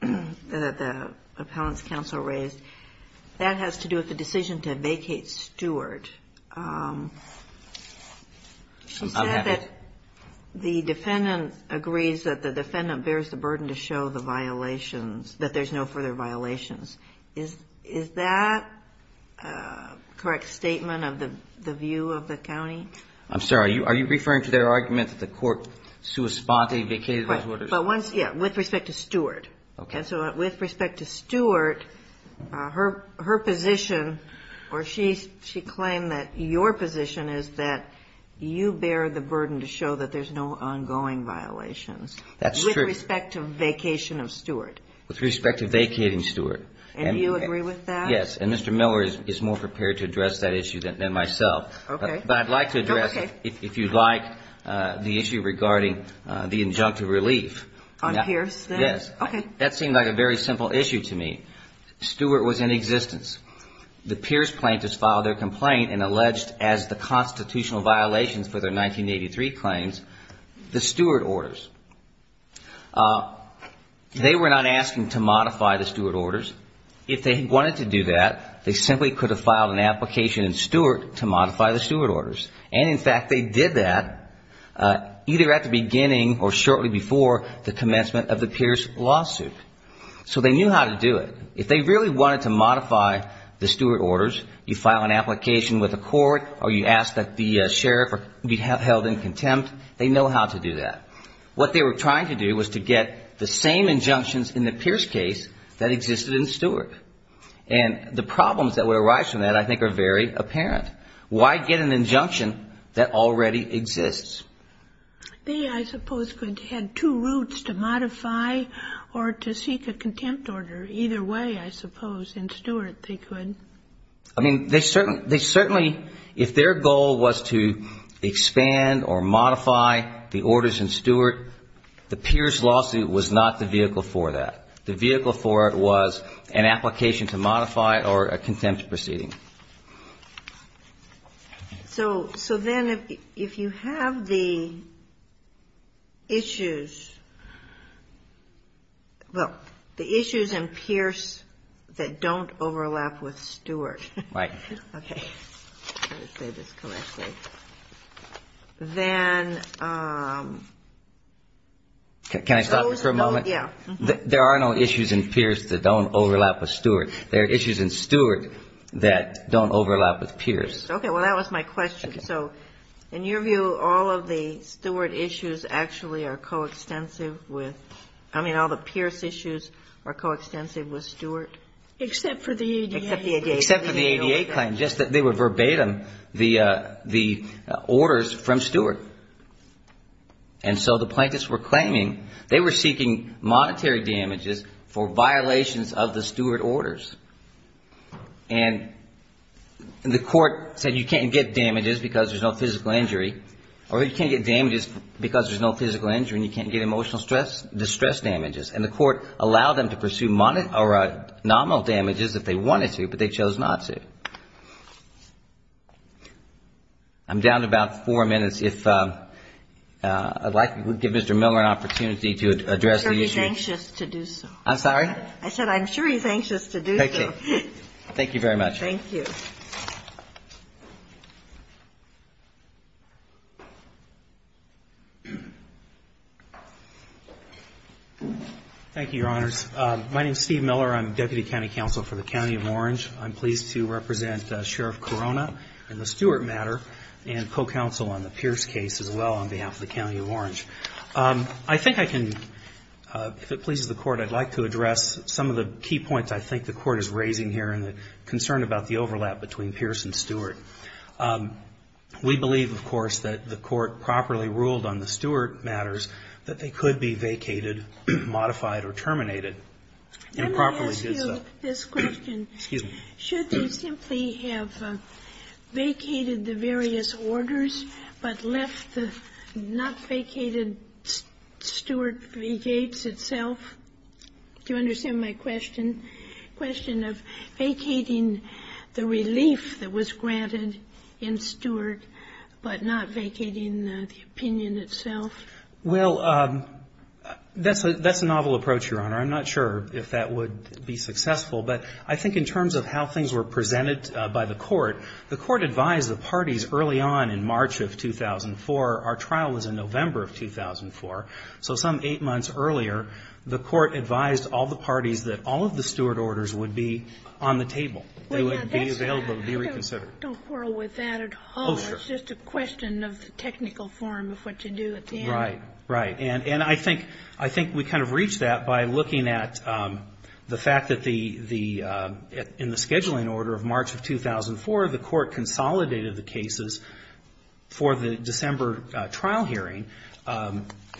that the appellants council raised. That has to do with the decision to vacate Stewart. I'm happy. The defendant agrees that the defendant bears the burden to show that there's no further violations. Is that a correct statement of the view of the county? I'm sorry, are you referring to their argument that the court sui sponte vacated Stewart? Yeah, with respect to Stewart. Okay, so with respect to Stewart, her position or she claimed that your position is that you bear the burden to show that there's no ongoing violations. That's true. With respect to vacation of Stewart. With respect to vacating Stewart. And you agree with that? Yes, and Mr. Miller is more prepared to address that issue than myself. Okay. But I'd like to address it if you'd like the issue regarding the injunctive relief. On Pierce? Yes. That seemed like a very simple issue to me. Stewart was in existence. The Pierce plaintiffs filed their complaint and alleged as the constitutional violation for their 1983 claims, the Stewart orders. They were not asking to modify the Stewart orders. If they wanted to do that, they simply could have filed an application in Stewart to modify the Stewart orders. And in fact, they did that either at the beginning or shortly before the commencement of the Pierce lawsuit. So they knew how to do it. If they really wanted to modify the Stewart orders, you file an application with the court or you ask that the sheriff be held in contempt, they know how to do that. What they were trying to do was to get the same injunctions in the Pierce case that existed in Stewart. And the problems that would arise from that I think are very apparent. Why get an injunction that already exists? They, I suppose, had two routes to modify or to seek a contempt order. Either way, I suppose, in Stewart they could. I mean, they certainly, if their goal was to expand or modify the orders in Stewart, the Pierce lawsuit was not the vehicle for that. The vehicle for it was an application to modify or a contempt proceeding. So then if you have the issues, well, the issues in Pierce that don't overlap with Stewart. Right. Okay. Let me say this correctly. Then... Can I stop you for a moment? Yeah. There are no issues in Pierce that don't overlap with Stewart. There are issues in Stewart that don't overlap with Pierce. Okay. Well, that was my question. So, in your view, all of the Stewart issues actually are coextensive with... I mean, all the Pierce issues are coextensive with Stewart? Except for the ADA claims. Except for the ADA claims. Except for the ADA claims. They were verbatim the orders from Stewart. And so the plaintiffs were claiming, they were seeking monetary damages for violations of the Stewart orders. And the court said you can't get damages because there's no physical injury. Or you can't get damages because there's no physical injury and you can't get emotional distress damages. And the court allowed them to pursue nominal damages if they wanted to, but they chose not to. I'm down to about four minutes. I'd like to give Mr. Miller an opportunity to address the issue. He's anxious to do so. I'm sorry? I said I'm sure he's anxious to do so. Thank you. Thank you very much. Thank you. Thank you, Your Honors. My name's Steve Miller. I'm Deputy County Counsel for the County of Orange. I'm pleased to represent Sheriff Corona in the Stewart matter and co-counsel on the Pierce case as well on behalf of the County of Orange. I think I can, if it pleases the court, I'd like to address some of the key points I think the court is raising here and the concern about the overlap between Pierce and Stewart. We believe, of course, that the court properly ruled on the Stewart matters that they could be vacated, modified, or terminated. Let me ask you this question. Should they simply have vacated the various orders but left the not vacated Stewart v. Gates itself? Do you understand my question? The question of vacating the relief that was granted in Stewart but not vacating the opinion itself. Well, that's a novel approach, Your Honor. I'm not sure if that would be successful, The court advised the parties early on in March of 2004. Our trial was in November of 2004. So some eight months earlier, the court advised all the parties that all of the Stewart orders would be on the table. They would be available to be reconsidered. Don't quarrel with that at all. It's just a question of the technical form of what to do at the end. Right, and I think we kind of reached that by looking at the fact that in the scheduling order of March of 2004, the court consolidated the cases for the December trial hearing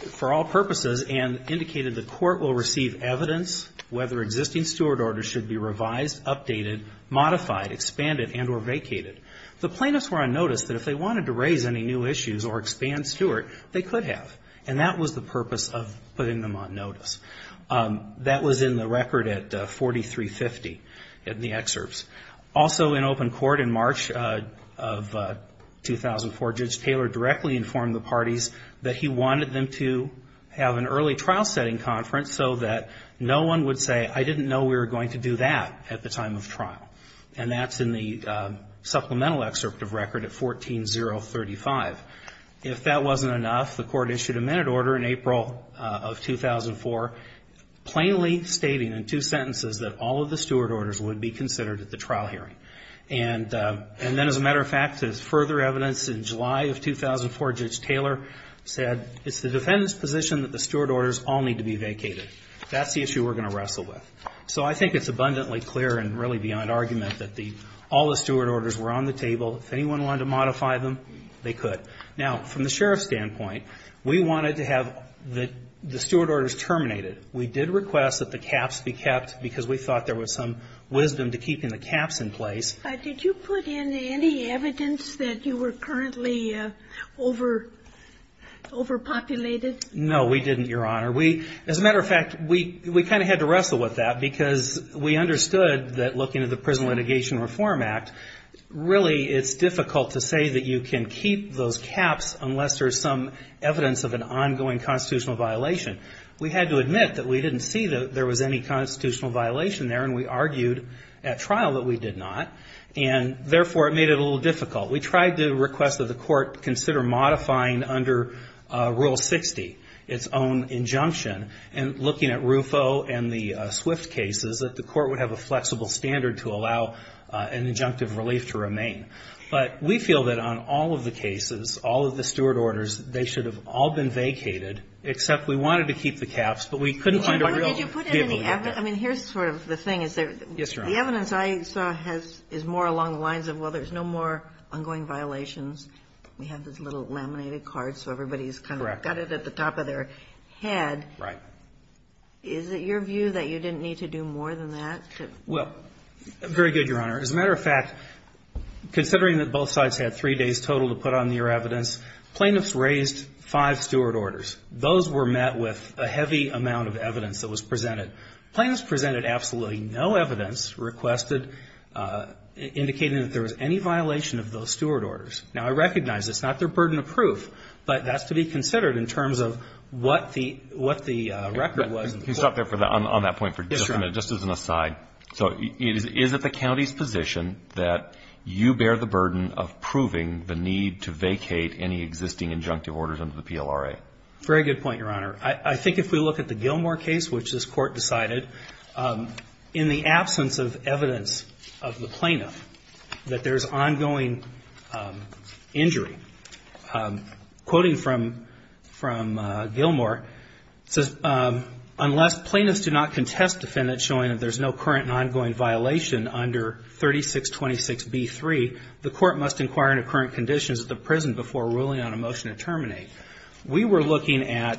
for all purposes and indicated the court will receive evidence whether existing Stewart orders should be revised, updated, modified, expanded, and or vacated. The plaintiffs were on notice that if they wanted to raise any new issues or expand Stewart, they could have. And that was the purpose of putting them on notice. That was in the record at 4350 in the excerpts. Also in open court in March of 2004, Judge Taylor directly informed the parties that he wanted them to have an early trial setting conference so that no one would say, I didn't know we were going to do that at the time of trial. And that's in the supplemental excerpt of record at 14-035. If that wasn't enough, the court issued a minute order in April of 2004 plainly stating in two sentences that all of the Stewart orders would be considered at the trial hearing. And then as a matter of fact, there's further evidence in July of 2004, Judge Taylor said, it's the defendant's position that the Stewart orders all need to be vacated. That's the issue we're going to wrestle with. So I think it's abundantly clear and really beyond argument that all the Stewart orders were on the table. If anyone wanted to modify them, they could. Now, from the sheriff's standpoint, we wanted to have the Stewart orders terminated. We did request that the caps be kept because we thought there was some wisdom to keeping the caps in place. Did you put in any evidence that you were currently overpopulated? No, we didn't, Your Honor. As a matter of fact, we kind of had to wrestle with that because we understood that looking at the Prison Litigation Reform Act, really it's difficult to say that you can keep those caps unless there's some evidence of an ongoing constitutional violation. We had to admit that we didn't see that there was any constitutional violation there, and we argued at trial that we did not, and therefore it made it a little difficult. We tried to request that the court consider modifying under Rule 60, its own injunction, and looking at RUFO and the Swift cases, that the court would have a flexible standard to allow an injunctive relief to remain. But we feel that on all of the cases, all of the Stewart orders, they should have all been vacated, except we wanted to keep the caps, but we couldn't find a real... Did you put in any evidence? I mean, here's sort of the thing. The evidence I saw is more along the lines of, well, there's no more ongoing violations. We have this little laminated card, so everybody's kind of got it at the top of their head. Is it your view that you didn't need to do more than that? Well, very good, Your Honor. As a matter of fact, considering that both sides had three days total to put on their evidence, plaintiffs raised five Stewart orders. Those were met with a heavy amount of evidence that was presented. Plaintiffs presented absolutely no evidence, indicating that there was any violation of those Stewart orders. Now, I recognize it's not their burden of proof, but that's to be considered in terms of what the record was. You can stop there on that point for just a minute, just as an aside. So is it the county's position that you bear the burden of proving the need to vacate any existing injunctive orders under the PLRA? Very good point, Your Honor. I think if we look at the Gilmore case, which this court decided, in the absence of evidence of the plaintiff that there's ongoing injury, quoting from Gilmore, it says, unless plaintiffs do not contest defendants showing that there's no current and ongoing violation under 3626B3, the court must inquire into current conditions at the prison before ruling on a motion to terminate. We were looking at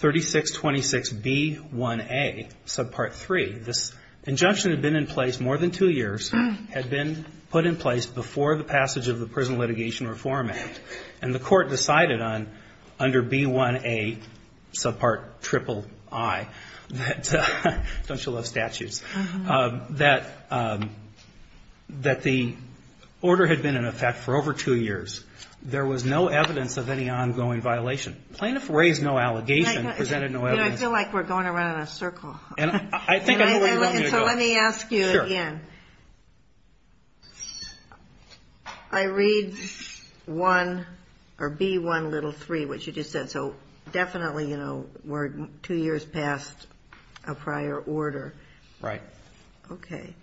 3626B1A, subpart 3. This injunction had been in place more than two years, had been put in place before the passage of the Prison Litigation Reform Act, and the court decided under B1A, subpart triple I, that the order had been in effect for over two years. There was no evidence of any ongoing violation. The plaintiff raised no allegations, presented no evidence. I feel like we're going around in a circle. So let me ask you again. I read B1, little 3, which you just said. So definitely, you know, we're two years past a prior order. Right. Okay.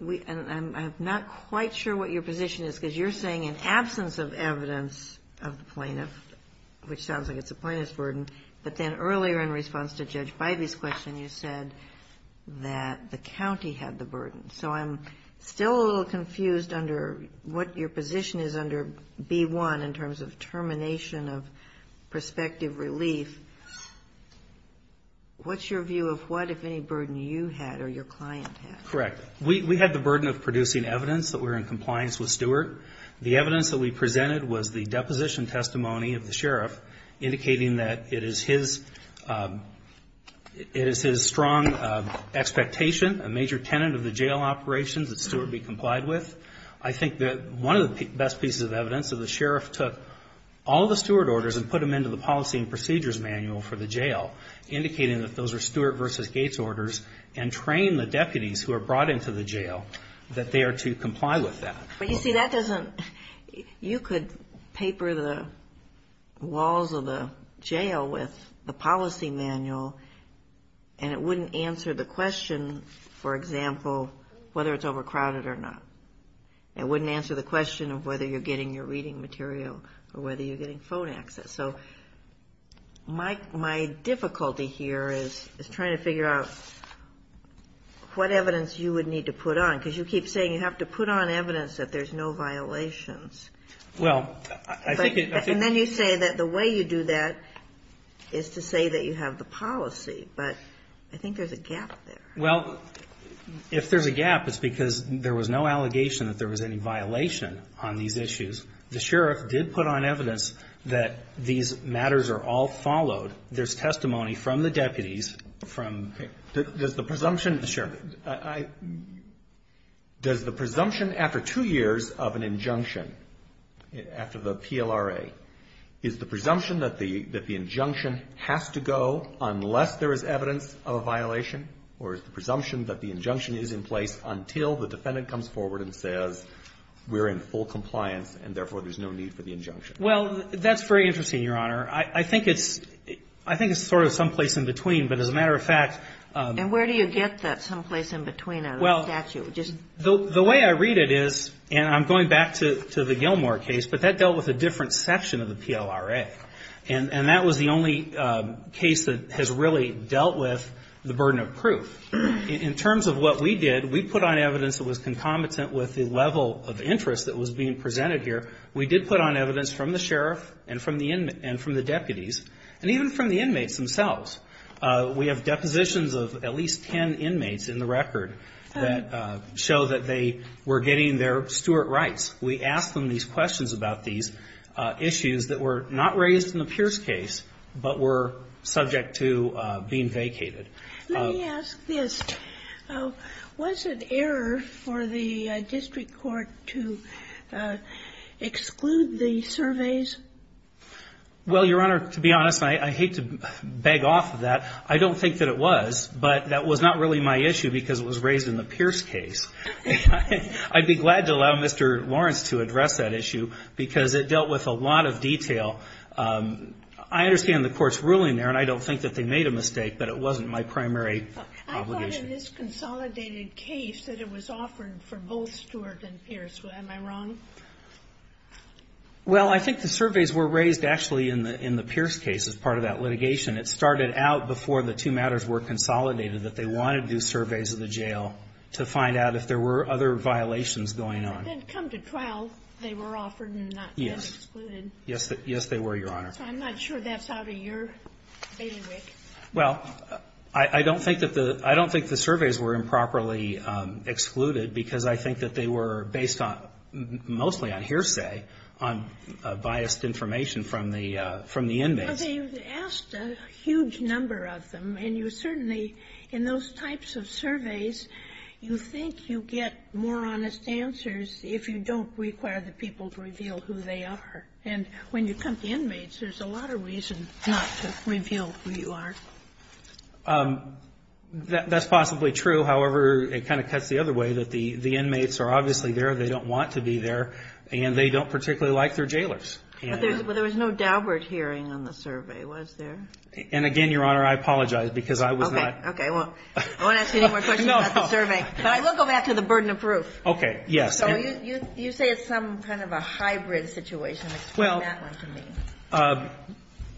I'm not quite sure what your position is, because you're saying in absence of evidence of the plaintiff, which sounds like it's a plaintiff's word, but then earlier in response to Judge Bivey's question, you said that the county had the burden. So I'm still a little confused under what your position is under B1 in terms of termination of prospective relief. What's your view of what, if any, burden you had or your client had? Correct. We had the burden of producing evidence that we were in compliance with Stewart. Indicating that it is his strong expectation, a major tenant of the jail operations, that Stewart be complied with. I think that one of the best pieces of evidence is the sheriff took all the Stewart orders and put them into the policy and procedures manual for the jail, indicating that those are Stewart v. Gates orders, and trained the deputies who are brought into the jail that they are to comply with that. You see, that doesn't – you could paper the walls of the jail with a policy manual and it wouldn't answer the question, for example, whether it's overcrowded or not. It wouldn't answer the question of whether you're getting your reading material or whether you're getting phone access. So my difficulty here is trying to figure out what evidence you would need to put on, that there's no violations. And then you say that the way you do that is to say that you have the policy, but I think there's a gap there. Well, if there's a gap, it's because there was no allegation that there was any violation on these issues. The sheriff did put on evidence that these matters are all followed. There's testimony from the deputies. Does the presumption after two years of an injunction, after the PLRA, is the presumption that the injunction has to go unless there is evidence of a violation, or is the presumption that the injunction is in place until the defendant comes forward and says we're in full compliance and therefore there's no need for the injunction? I think it's sort of someplace in between, but as a matter of fact. And where do you get that someplace in between a statute? The way I read it is, and I'm going back to the Gilmore case, but that dealt with a different section of the PLRA. And that was the only case that has really dealt with the burden of proof. In terms of what we did, we put on evidence that was concomitant with the level of interest that was being presented here. We did put on evidence from the sheriff and from the deputies, and even from the inmates themselves. We have depositions of at least ten inmates in the record that show that they were getting their steward rights. We asked them these questions about these issues that were not raised in the Pierce case, but were subject to being vacated. Let me ask this. Was it error for the district court to exclude the surveys? Well, Your Honor, to be honest, I hate to beg off of that. I don't think that it was, but that was not really my issue because it was raised in the Pierce case. I'd be glad to allow Mr. Lawrence to address that issue because it dealt with a lot of detail. I understand the court's ruling there, and I don't think that they made a mistake, but it wasn't my primary obligation. I thought in this consolidated case that it was offered for both Stewart and Pierce. Am I wrong? Well, I think the surveys were raised actually in the Pierce case as part of that litigation. It started out before the two matters were consolidated that they wanted to do surveys of the jail to find out if there were other violations going on. Then come to trial, they were offered and not excluded. Yes, they were, Your Honor. I'm not sure that's out of your bailiwick. Well, I don't think the surveys were improperly excluded because I think that they were based mostly on hearsay, on biased information from the inmate. They asked a huge number of them, and you certainly, in those types of surveys, you think you get more honest answers if you don't require the people to reveal who they are. And when you come to inmates, there's a lot of reasons not to reveal who you are. That's possibly true. However, it kind of cuts the other way, that the inmates are obviously there. They don't want to be there, and they don't particularly like their jailers. But there was no Daubert hearing on the survey, was there? And again, Your Honor, I apologize because I was not... We'll go back to the burden of proof. You say it's some kind of a hybrid situation. Explain that one to me.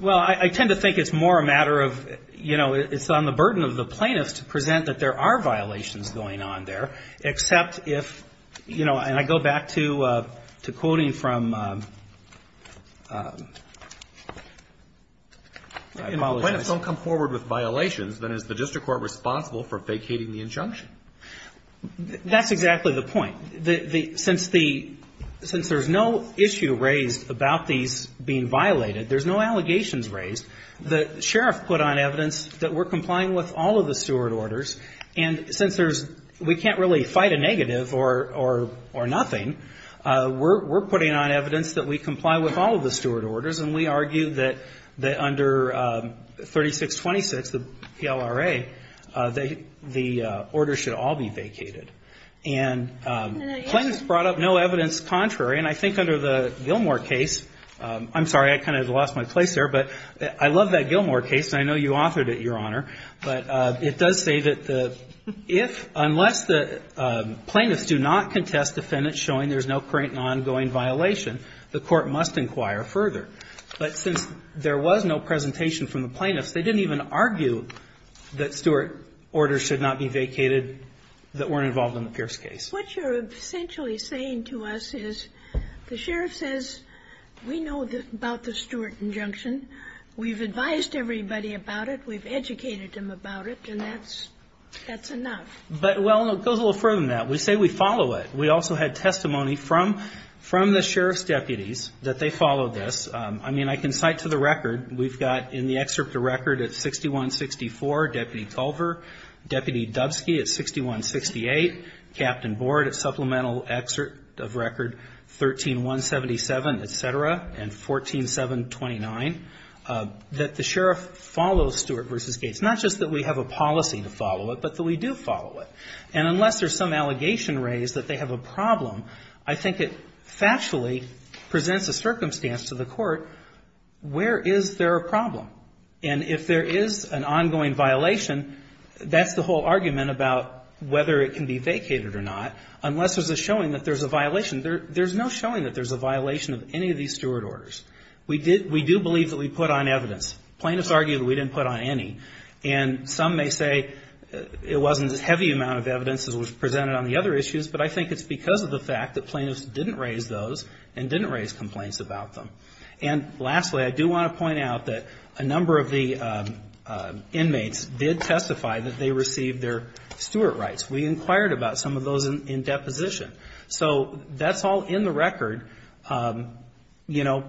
Well, I tend to think it's more a matter of, you know, it's on the burden of the plaintiffs to present that there are violations going on there, except if, you know, and I go back to quoting from... That's exactly the point. Since there's no issue raised about these being violated, there's no allegations raised, the sheriff put on evidence that we're complying with all of the steward orders, and since we can't really fight a negative or nothing, we're putting on evidence that we comply with all of the steward orders, and we argue that under 3626, the PLRA, the order should all be vacated. And plaintiffs brought up no evidence contrary, and I think under the Gilmore case, I'm sorry, I kind of lost my place there, but I love that Gilmore case, and I know you authored it, Your Honor, but it does say that unless the plaintiffs do not contest the defendant showing there's no current and ongoing violation, the court must inquire further. But since there was no presentation from the plaintiffs, they didn't even argue that steward orders should not be vacated that weren't involved in the Pierce case. What you're essentially saying to us is the sheriff says, we know about the steward injunction, we've advised everybody about it, we've educated them about it, and that's enough. But, well, it goes a little further than that. We say we follow it. We also had testimony from the sheriff's deputies that they follow this. I mean, I can cite to the record, we've got in the excerpt of the record at 6164, Deputy Culver, Deputy Dubski at 6168, Captain Board at supplemental excerpt of record 13177, et cetera, and 14729, that the sheriff follows Stewart v. Gates, not just that we have a policy to follow it, but that we do follow it. And unless there's some allegation raised that they have a problem, I think it factually presents a circumstance to the court, where is there a problem? And if there is an ongoing violation, that's the whole argument about whether it can be vacated or not, unless there's a showing that there's a violation. There's no showing that there's a violation of any of these steward orders. We do believe that we put on evidence. Plaintiffs argue that we didn't put on any. And some may say it wasn't a heavy amount of evidence that was presented on the other issues, but I think it's because of the fact that plaintiffs didn't raise those and didn't raise complaints about them. And lastly, I do want to point out that a number of the inmates did testify that they received their steward rights. We inquired about some of those in deposition. So that's all in the record. You know,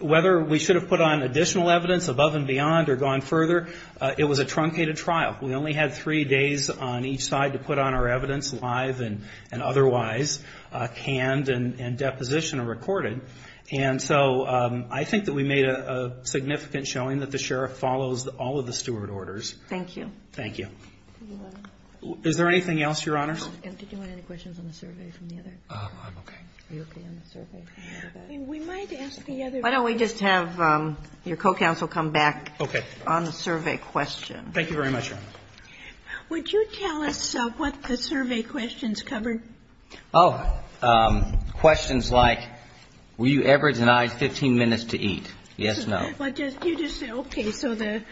whether we should have put on additional evidence above and beyond or gone further, it was a truncated trial. We only had three days on each side to put on our evidence, live and otherwise, canned and deposition and recorded. And so I think that we made a significant showing that the sheriff follows all of the steward orders. Thank you. Thank you. Is there anything else, Your Honors? Did you have any questions on the survey from the other? I'm okay. You're okay on the survey? We might ask the other... Why don't we just have your co-counsel come back on the survey question. Thank you very much, Your Honor. Would you tell us what the survey questions covered? Oh, questions like, were you ever denied 15 minutes to eat? Yes, no. You just said okay, so the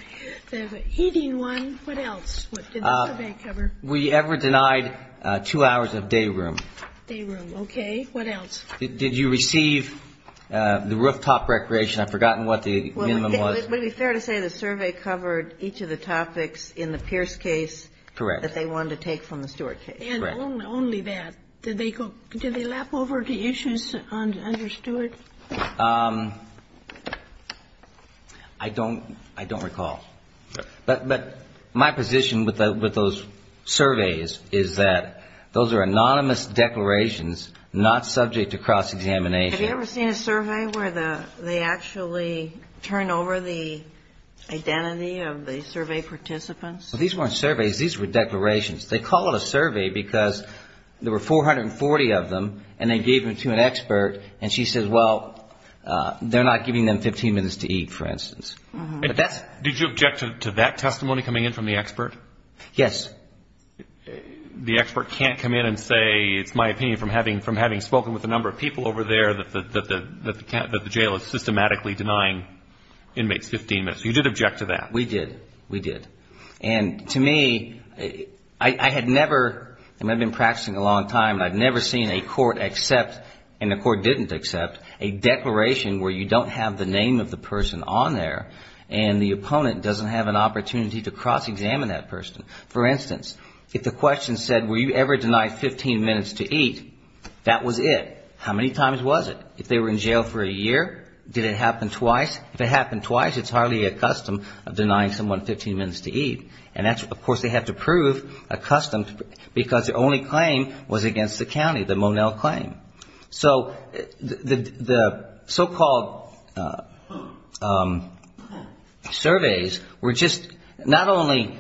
heating one, what else? What did the survey cover? Were you ever denied two hours of day room? Day room, okay. What else? Did you receive the rooftop recreation? I've forgotten what the minimum was. Would it be fair to say the survey covered each of the topics in the Pierce case... Correct. ...that they wanted to take from the Stewart case? Correct. And only that. Did they lap over the issues under Stewart? I don't recall. But my position with those surveys is that those are anonymous declarations, not subject to cross-examination. Have you ever seen a survey where they actually turn over the identity of the survey participants? These weren't surveys. These were declarations. They call it a survey because there were 440 of them, and they gave them to an expert, and she says, well, they're not giving them 15 minutes to eat, for instance. Did you object to that testimony coming in from the expert? Yes. The expert can't come in and say, it's my opinion from having spoken with a number of people over there, that the jail is systematically denying inmates 15 minutes. You did object to that. We did. We did. And to me, I had never, and I've been practicing a long time, and I've never seen a court accept, and the court didn't accept, a declaration where you don't have the name of the person on there, and the opponent doesn't have an opportunity to cross-examine that person. For instance, if the question said, were you ever denied 15 minutes to eat, that was it. How many times was it? If they were in jail for a year, did it happen twice? If it happened twice, it's hardly accustomed of denying someone 15 minutes to eat, and that's, of course, they have to prove accustomed, because the only claim was against the county, the Monell claim. So the so-called surveys were just not only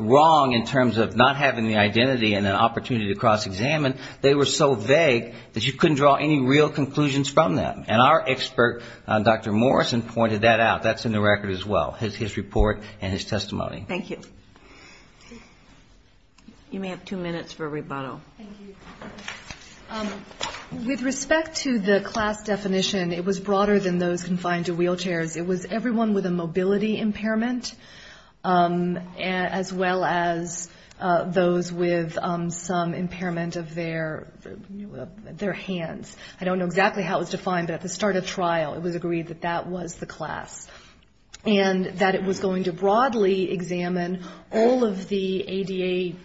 wrong in terms of not having the identity and an opportunity to cross-examine, they were so vague that you couldn't draw any real conclusions from them. And our expert, Dr. Morrison, pointed that out. That's in the record as well, his report and his testimony. Thank you. You may have two minutes for a rebuttal. Thank you. With respect to the class definition, it was broader than those confined to wheelchairs. It was everyone with a mobility impairment, as well as those with some impairment of their hands. I don't know exactly how it was defined, but at the start of trial, it was agreed that that was the class, and that it was going to broadly examine all of the ADA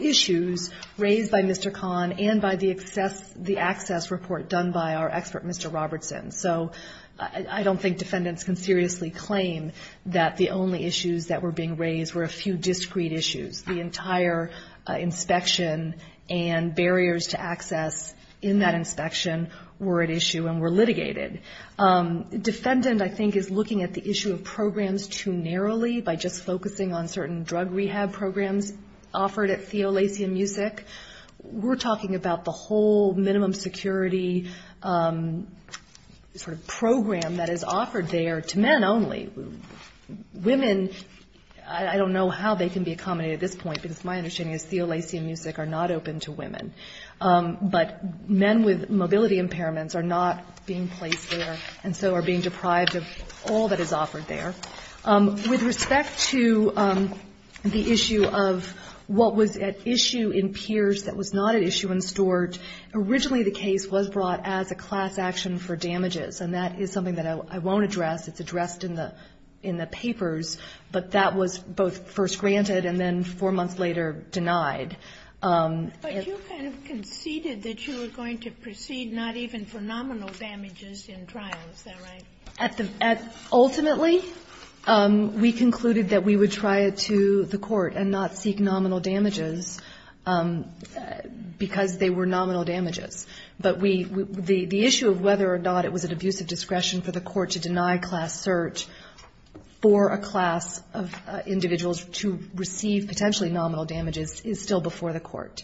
issues raised by Mr. Kahn and by the access report done by our expert, Mr. Robertson. So I don't think defendants can seriously claim that the only issues that were being raised were a few discrete issues. The entire inspection and barriers to access in that inspection were at issue and were litigated. Defendant, I think, is looking at the issue of programs too narrowly by just focusing on certain drug rehab programs offered at CLAC and MUSIC. We're talking about the whole minimum security sort of program that is offered there to men only. Women, I don't know how they can be accommodated at this point, because my understanding is CLAC and MUSIC are not open to women. But men with mobility impairments are not being placed there and so are being deprived of all that is offered there. With respect to the issue of what was at issue in Pierce that was not at issue in Stuart, originally the case was brought as a class action for damages, and that is something that I won't address. It's addressed in the papers, but that was both first granted and then four months later denied. But you kind of conceded that you were going to proceed not even for nominal damages in trial. Is that right? Ultimately, we concluded that we would try it to the court and not seek nominal damages because they were nominal damages. But the issue of whether or not it was an abuse of discretion for the court to deny class search for a class of individuals to receive potentially nominal damages is still before the court.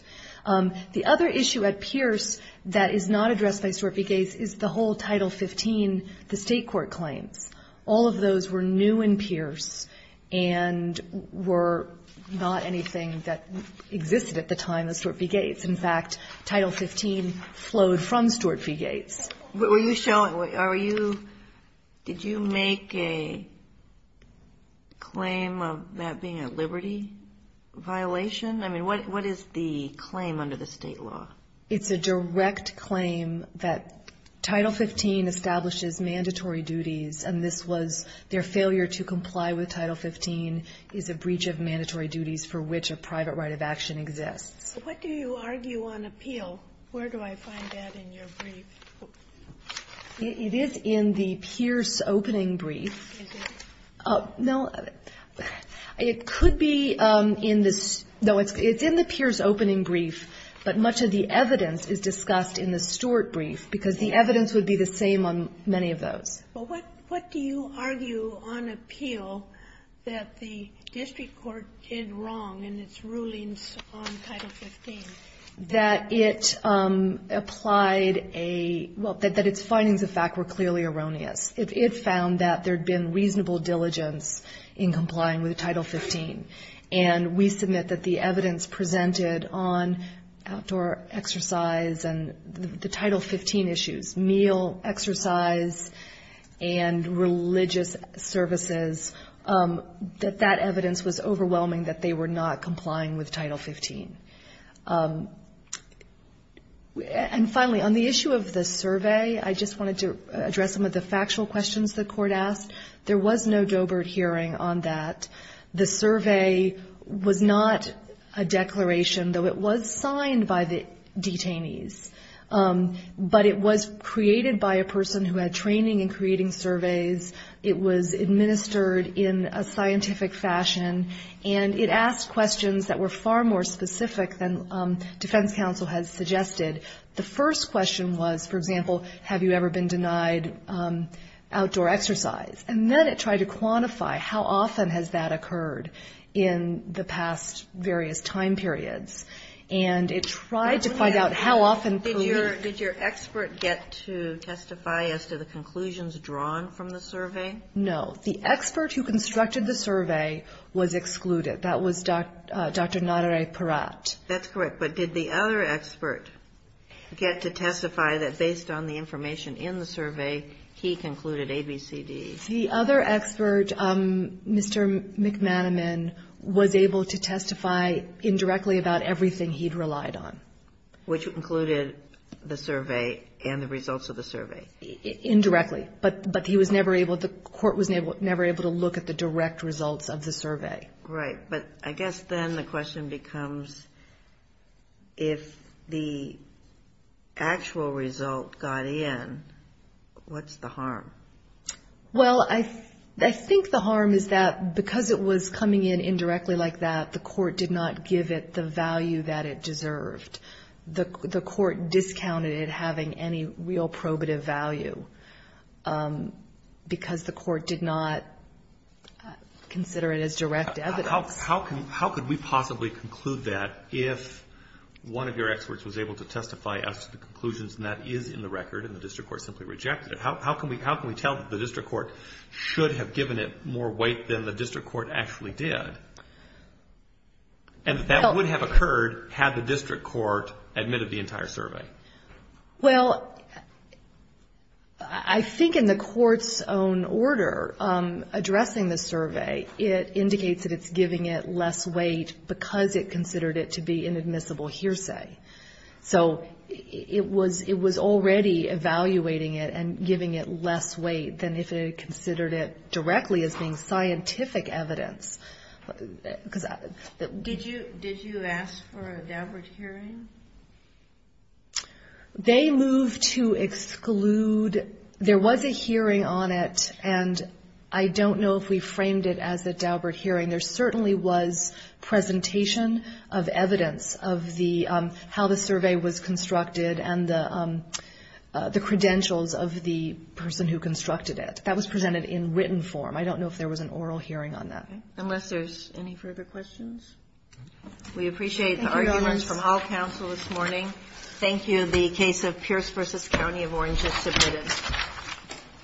The other issue at Pierce that is not addressed by Stuart v. Gates is the whole Title 15, the state court claim. All of those were new in Pierce and were not anything that existed at the time of Stuart v. Gates. In fact, Title 15 flowed from Stuart v. Gates. Were you showing, are you, did you make a claim of that being a liberty violation? I mean, what is the claim under the state law? It's a direct claim that Title 15 establishes mandatory duties, and this was their failure to comply with Title 15 is a breach of mandatory duties for which a private right of action exists. What do you argue on appeal? Where do I find that in your brief? It is in the Pierce opening brief. Is it? No, it could be in the, no, it's in the Pierce opening brief, but much of the evidence is discussed in the Stuart brief because the evidence would be the same on many of those. What do you argue on appeal that the district court did wrong in its rulings on Title 15? That it applied a, well, that its findings of fact were clearly erroneous. It found that there had been reasonable diligence in complying with Title 15, and we submit that the evidence presented on outdoor exercise and the Title 15 issues, meal exercise and religious services, that that evidence was overwhelming that they were not complying with Title 15. And finally, on the issue of the survey, I just wanted to address some of the factual questions the court asked. There was no Dobert hearing on that. The survey was not a declaration, though it was signed by the detainees, but it was created by a person who had training in creating surveys. It was administered in a scientific fashion, and it asked questions that were far more specific than defense counsel had suggested. The first question was, for example, have you ever been denied outdoor exercise? And then it tried to quantify how often has that occurred in the past various time periods, and it tried to find out how often. Did your expert get to testify as to the conclusions drawn from the survey? No. The expert who constructed the survey was excluded. That was Dr. Naderay Peratt. That's correct, but did the other expert get to testify that based on the information in the survey, he concluded A, B, C, D? The other expert, Mr. McManaman, was able to testify indirectly about everything he'd relied on. Which included the survey and the results of the survey? Indirectly, but the court was never able to look at the direct results of the survey. Right, but I guess then the question becomes, if the actual results got in, what's the harm? Well, I think the harm is that because it was coming in indirectly like that, the court did not give it the value that it deserved. The court discounted it having any real probative value because the court did not consider it as direct evidence. How could we possibly conclude that if one of your experts was able to testify as to the conclusions and that is in the record and the district court simply rejected it? How can we tell that the district court should have given it more weight than the district court actually did? That would have occurred had the district court admitted the entire survey. Well, I think in the court's own order addressing the survey, it indicates that it's giving it less weight because it considered it to be an admissible hearsay. So it was already evaluating it and giving it less weight than if it considered it directly as being scientific evidence. Did you ask for a Daubert hearing? They moved to exclude. There was a hearing on it and I don't know if we framed it as a Daubert hearing. There certainly was presentation of evidence of how the survey was constructed and the credentials of the person who constructed it. That was presented in written form. I don't know if there was an oral hearing on that. Unless there's any further questions? We appreciate the arguments from all counsel this morning. Thank you. The case of Pierce v. County of Orange is submitted.